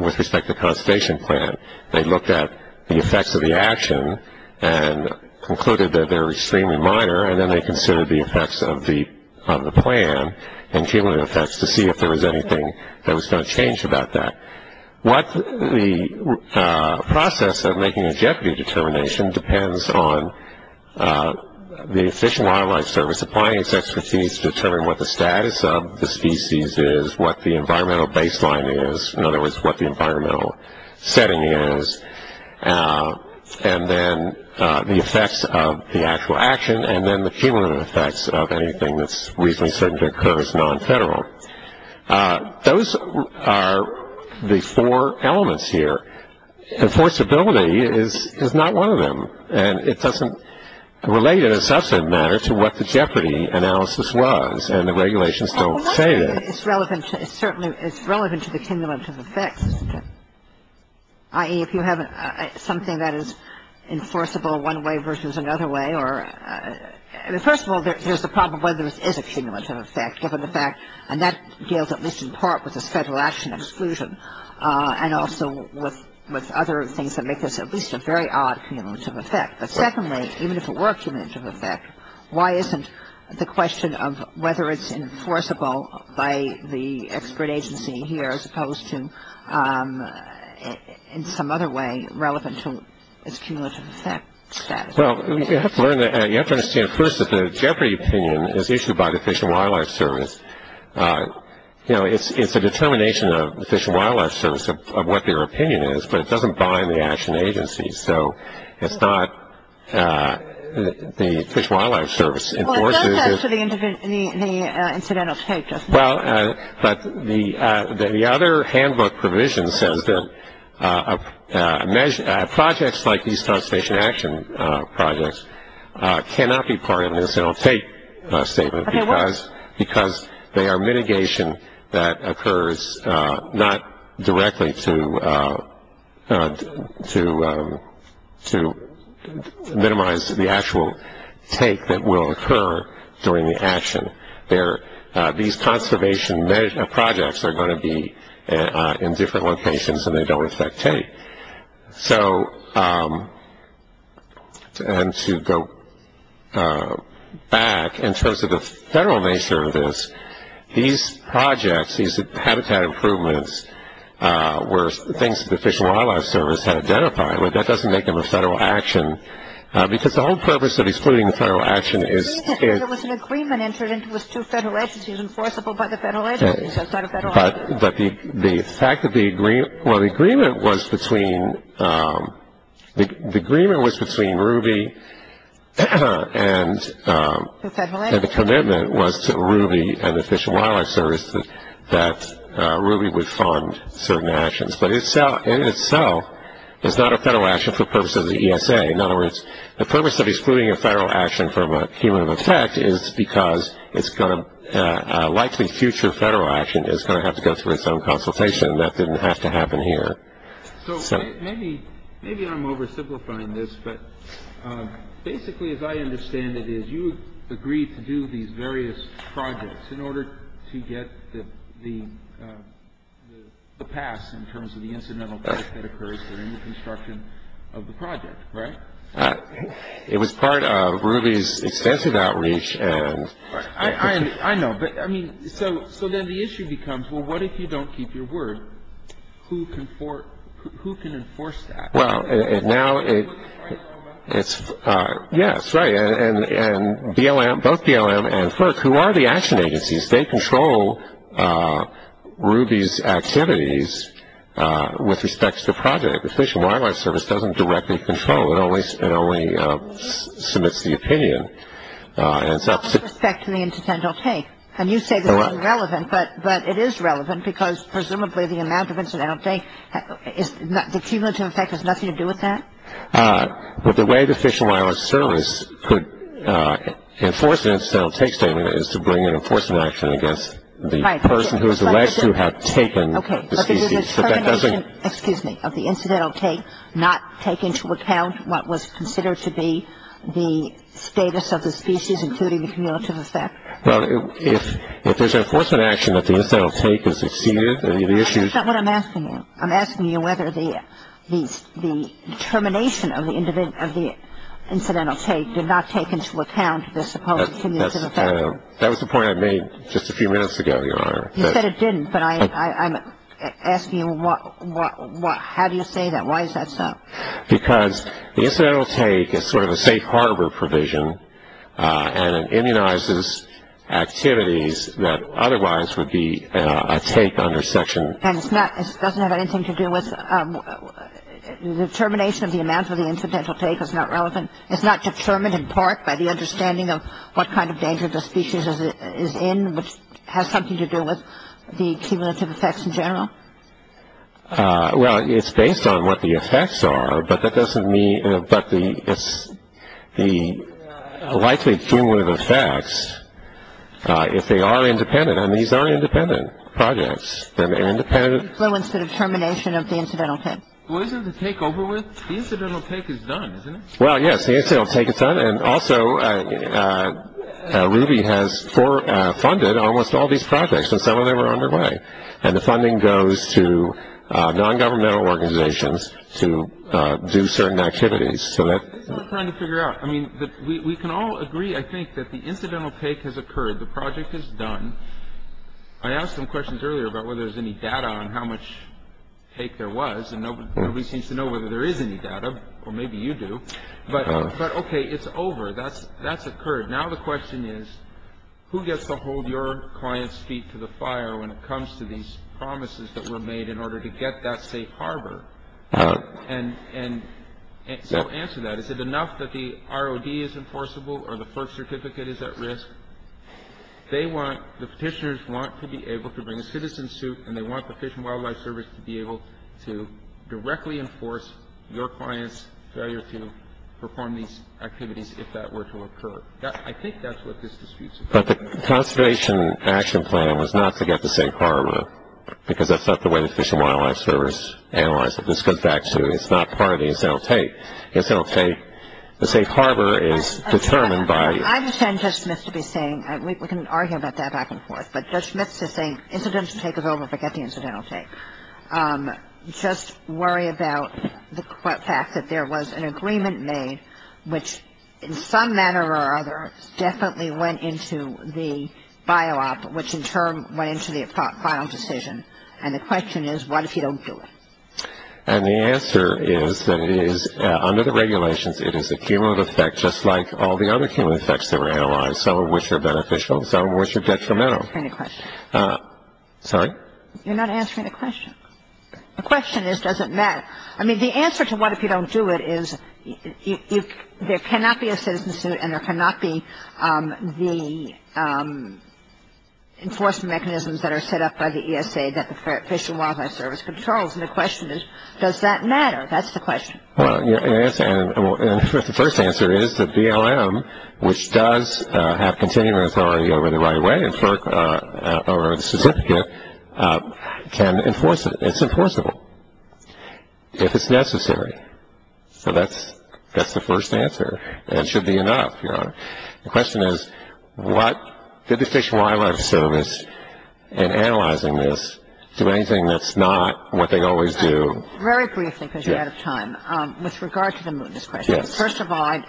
with respect to the conservation plan. They looked at the effects of the action and concluded that they were extremely minor, and then they considered the effects of the plan and cumulative effects to see if there was anything that was going to change about that. The process of making a jeopardy determination depends on the Fish and Wildlife Service applying its expertise to determine what the status of the species is, what the environmental baseline is, in other words, what the environmental setting is, and then the effects of the actual action, and then the cumulative effects of anything that's reasonably certain to occur as non-federal. Those are the four elements here. Enforceability is not one of them, and it doesn't relate in a substantive manner to what the jeopardy analysis was, and the regulations don't say that. It's relevant to the cumulative effects, i.e., if you have something that is enforceable one way versus another way. First of all, there's the problem whether there is a cumulative effect, given the fact that that deals at least in part with the federal action exclusion and also with other things that make this at least a very odd cumulative effect. But secondly, even if it were a cumulative effect, why isn't the question of whether it's enforceable by the expert agency here as opposed to in some other way relevant to the cumulative effect status? Well, you have to understand first that the jeopardy opinion is issued by the Fish and Wildlife Service. You know, it's a determination of the Fish and Wildlife Service of what their opinion is, but it doesn't bind the action agency. So it's not the Fish and Wildlife Service. Well, it does have to be in the incidental status. Well, but the other handbook provision says that projects like these conservation action projects cannot be part of the incidental take statement because they are mitigation that occurs not directly to minimize the actual take that will occur during the action. These conservation projects are going to be in different locations and they don't affect take. So, and to go back in terms of the federal nature of this, these projects, these habitat improvements, were things that the Fish and Wildlife Service had identified, but that doesn't make them a federal action because the whole purpose of excluding the federal action is to I think there was an agreement entered into with two federal agencies enforceable by the federal agencies. That's not a federal action. But the fact that the agreement, well, the agreement was between, the agreement was between RUBY and the commitment was to RUBY and the Fish and Wildlife Service that RUBY would fund certain actions. But in itself, it's not a federal action for purposes of the ESA. In other words, the purpose of excluding a federal action from a cumulative effect is because it's going to, likely future federal action is going to have to go through its own consultation and that doesn't have to happen here. So, maybe I'm oversimplifying this, but basically as I understand it is you agreed to do these various projects in order to get the pass in terms of the incidental cost that occurs during the construction of the project, right? It was part of RUBY's extensive outreach. I know, but I mean, so then the issue becomes, well, what if you don't keep your word? Who can enforce that? Well, now it's, yes, right, and BLM, both BLM and FERC, who are the action agencies, they control RUBY's activities with respects to projects. The Fish and Wildlife Service doesn't directly control it, it only submits the opinion. With respect to the incidental take, and you say this is irrelevant, but it is relevant, because presumably the amount of incidental take, the cumulative effect has nothing to do with that? The way the Fish and Wildlife Service could enforce the incidental take statement is to bring an enforcement action against the person who is alleged to have taken the species. Okay, but the determination, excuse me, of the incidental take, not taking into account what was considered to be the status of the species, including the cumulative effect. Well, if there's an enforcement action that the incidental take is exceeded, then the issue is- That's not what I'm asking you. I'm asking you whether the determination of the incidental take did not take into account the supposed cumulative effect. That was the point I made just a few minutes ago, Your Honor. You said it didn't, but I'm asking you how do you say that, why is that so? Because the incidental take is sort of a safe harbor provision, and it immunizes activities that otherwise would be a take under section. And it doesn't have anything to do with the determination of the amount of the incidental take is not relevant. It's not determined in part by the understanding of what kind of danger the species is in, which has something to do with the cumulative effects in general? Well, it's based on what the effects are, but that doesn't mean- but the likely cumulative effects, if they are independent on these non-independent projects, then an independent- Well, it's the determination of the incidental take. Well, isn't the take over with? The incidental take is done, isn't it? Well, yes, the incidental take is done, and also Ruby has funded almost all these projects, so some of them are underway. And the funding goes to non-governmental organizations to do certain activities, so that- We're trying to figure it out. I mean, we can all agree, I think, that the incidental take has occurred. The project is done. I asked some questions earlier about whether there's any data on how much take there was, and nobody seems to know whether there is any data, or maybe you do. But, okay, it's over. That's occurred. Now the question is, who gets to hold your client's feet to the fire when it comes to these promises that were made in order to get that safe harbor? And to answer that, is it enough that the ROD is enforceable, or the FERC certificate is at risk? They want-the petitioners want to be able to bring a citizen suit, and they want the Fish and Wildlife Service to be able to directly enforce your client's failure to perform these activities if that were to occur. I think that's what this dispute is about. But the conservation action plan was not to get the safe harbor, because that's not the way the Fish and Wildlife Service analyzed it. This goes back to it's not part of the incidental take. The incidental take, the safe harbor is determined by- I understand Judge Smith to be saying-we can argue about that back and forth, but Judge Smith is saying incidental take is over, forget the incidental take. Just worry about the fact that there was an agreement made, which in some manner or other definitely went into the bio-op, which in turn went into the final decision. And the question is, what if you don't do it? And the answer is that it is, under the regulations, it is a cumulative effect, just like all the other cumulative effects that were analyzed, some of which are beneficial, some of which are detrimental. Any questions? Sorry? You're not answering the question. The question is, does it matter? I mean, the answer to what if you don't do it is, there cannot be a citizen suit and there cannot be the enforcement mechanisms that are set up by the ESA that the Fish and Wildlife Service controls. And the question is, does that matter? That's the question. Well, and the first answer is that BLM, which does have continuing authority over the right-of-way or the certificate, can enforce it. It's enforceable if it's necessary. So that's the first answer, and it should be enough. The question is, what did the Fish and Wildlife Service, in analyzing this, do anything that's not what they always do? Very briefly, because you're out of time, with regard to the mootness question. Yes. First of all,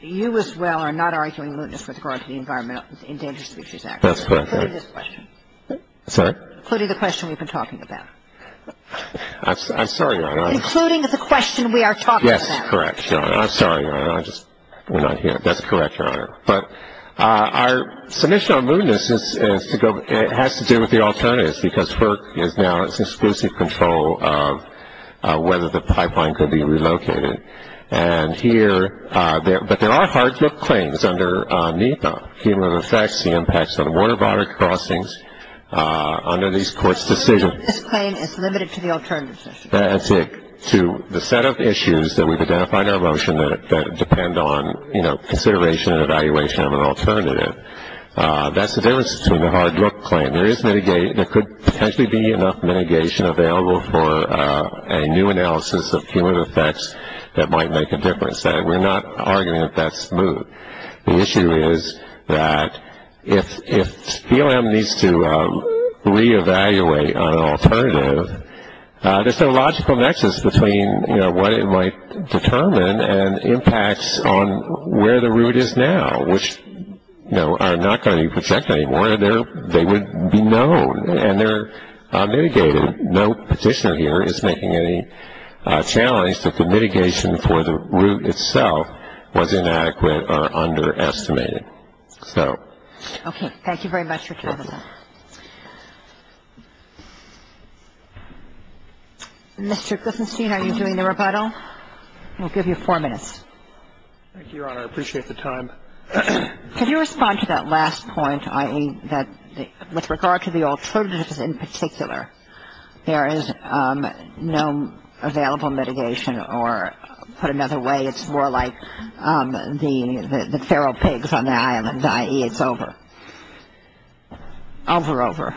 you as well are not arguing mootness with regard to the Environmental Endangered Species Act. That's correct. Including this question. Sorry? Including the question we've been talking about. I'm sorry, Your Honor. Including the question we are talking about. Yes, correct, Your Honor. I'm sorry, Your Honor. I just went on here. That's correct, Your Honor. But our submission on mootness has to do with the alternatives, because FERC is now in exclusive control of whether the pipeline could be relocated. And here, but there are hard-look claims under NEPA, human effects impacts on water-border crossings under these court's decision. This claim is limited to the alternatives. That's it. To the set of issues that we've identified in our motion that depend on, you know, consideration and evaluation of an alternative. That's the difference between the hard-look claim. There could potentially be enough mitigation available for a new analysis of human effects that might make a difference. We're not arguing that that's moot. The issue is that if DLM needs to reevaluate an alternative, there's no logical nexus between, you know, what it might determine and impacts on where the route is now, which, you know, are not going to be protected anymore. They would be known, and they're mitigated. No petitioner here is making any challenge that the mitigation for the route itself was inadequate or underestimated. So. Okay. Thank you very much for coming. Mr. Glistenstein, are you doing the rebuttal? We'll give you four minutes. Thank you, Your Honor. I appreciate the time. Could you respond to that last point, i.e., that with regard to the alternatives in particular, there is no available mitigation or, put another way, it's more like the feral pigs on the island, i.e., it's over. Over, over.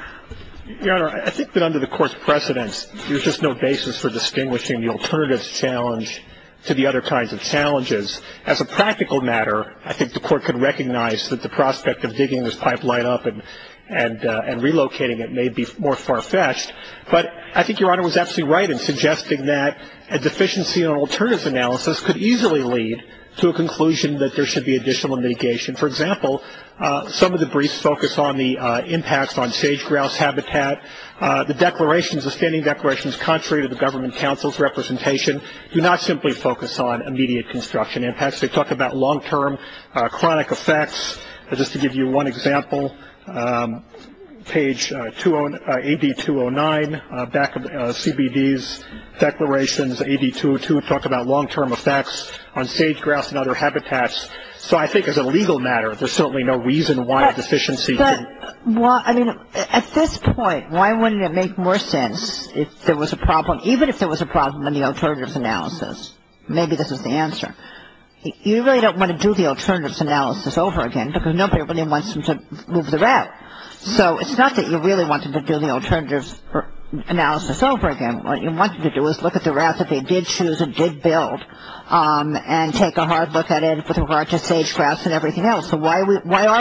Your Honor, I think that under the Court's precedent, there's just no basis for distinguishing the alternatives challenge to the other kinds of challenges. As a practical matter, I think the Court could recognize that the prospect of digging this pipeline up and relocating it may be more far-fetched, but I think Your Honor was absolutely right in suggesting that a deficiency in an alternative analysis could easily lead to a conclusion that there should be additional mitigation. For example, some of the briefs focus on the impacts on sage-grouse habitat. The declarations, the standing declarations, contrary to the government council's representation, do not simply focus on immediate construction impacts. They talk about long-term chronic effects. Just to give you one example, page AD-209, CBD's declarations, AD-202 talk about long-term effects on sage-grouse and other habitats. So I think as a legal matter, there's certainly no reason why a deficiency could. Well, I mean, at this point, why wouldn't it make more sense if there was a problem, even if there was a problem in the alternative analysis? Maybe this is the answer. You really don't want to do the alternative analysis over again because nobody really wants them to move the raft. So it's not that you really want them to do the alternative analysis over again. What you want them to do is look at the raft that they did choose and did build and take a hard look at it with regard to sage-grouse and everything else. So why are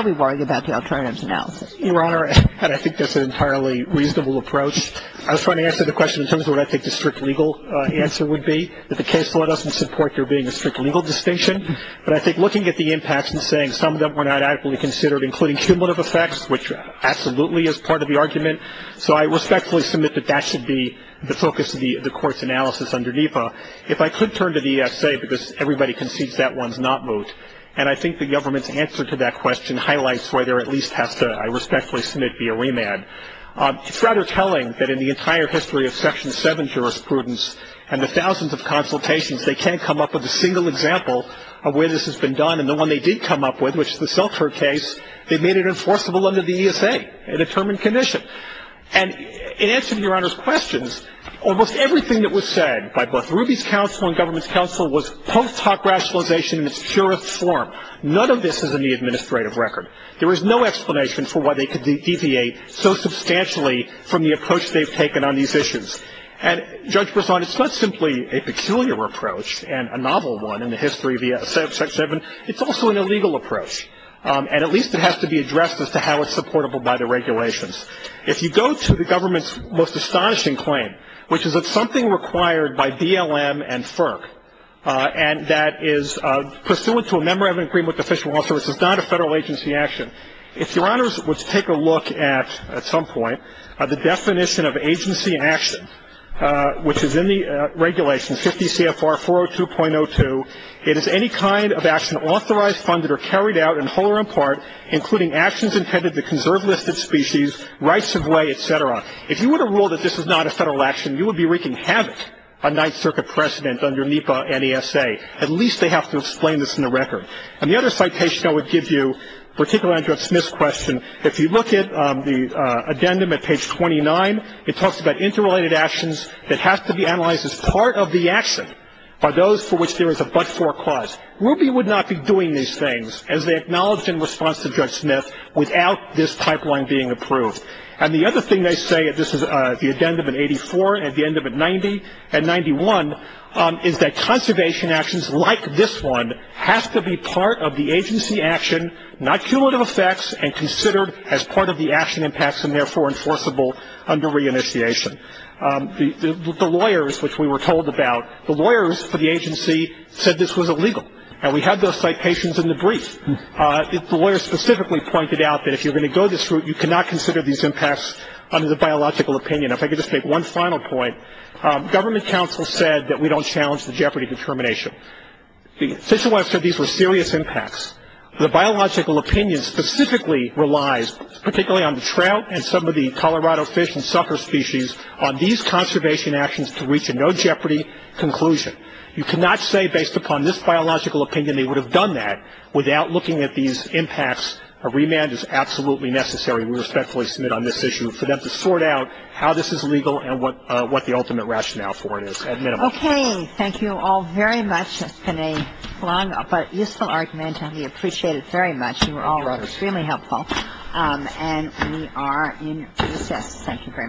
we worrying about the alternative analysis? Your Honor, I think that's an entirely reasonable approach. I was trying to answer the question in terms of what I think the strict legal answer would be, that the case law doesn't support there being a strict legal distinction. But I think looking at the impacts and saying some of them are not actually considered, including cumulative effects, which absolutely is part of the argument. So I respectfully submit that that should be the focus of the court's analysis under NEPA. If I could turn to the ESA, because everybody concedes that one's not moved, and I think the government's answer to that question highlights where there at least has to, I respectfully submit, be a remand. It's rather telling that in the entire history of Section 7 jurisprudence and the thousands of consultations they can't come up with a single example of where this has been done. And the one they did come up with, which was the Seltzer case, they made it enforceable under the ESA, a determined condition. And in answering Your Honor's questions, almost everything that was said by both Ruby's counsel and government's counsel was post hoc rationalization in its purest form. None of this is in the administrative record. There is no explanation for why they could deviate so substantially from the approach they've taken on these issues. And, Judge Breslau, it's not simply a peculiar approach and a novel one in the history of Section 7. It's also an illegal approach. And at least it has to be addressed as to how it's supportable by the regulations. If you go to the government's most astonishing claim, which is that something required by BLM and FERC, and that is pursuant to a Memorandum of Agreement with the Fish and Wildlife Service, is not a federal agency action, if Your Honors would take a look at, at some point, the definition of agency action, which is in the regulations, 50 CFR 402.02, it is any kind of action authorized, funded, or carried out in whole or in part, including actions intended to conserve listed species, rights of way, et cetera. If you were to rule that this is not a federal action, you would be wreaking havoc on Ninth Circuit precedent under NEPA and ESA. At least they have to explain this in the record. And the other citation I would give you, particularly on Judge Smith's question, if you look at the addendum at page 29, it talks about interrelated actions that have to be analyzed as part of the action by those for which there is a but-for clause. Ruby would not be doing these things, as they acknowledge in response to Judge Smith, without this pipeline being approved. And the other thing they say, this is the addendum in 84 and the addendum in 90 and 91, is that conservation actions like this one have to be part of the agency action, not cumulative effects, and considered as part of the action impacts and therefore enforceable under reinitiation. The lawyers, which we were told about, the lawyers for the agency said this was illegal, and we have those citations in the brief. The lawyers specifically pointed out that if you're going to go this route, you cannot consider these impacts under the biological opinion. If I could just make one final point, government counsel said that we don't challenge the jeopardy determination. The official website said these were serious impacts. The biological opinion specifically relies, particularly on the trout and some of the Colorado fish and sucker species, on these conservation actions to reach a no jeopardy conclusion. You cannot say based upon this biological opinion they would have done that Without looking at these impacts, a remand is absolutely necessary. We respectfully submit on this issue for them to sort out how this is legal and what the ultimate rationale for it is, at minimum. Okay. Thank you all very much. It's been a long but useful argument, and we appreciate it very much. You all were extremely helpful. And we are in recess. Thank you very much.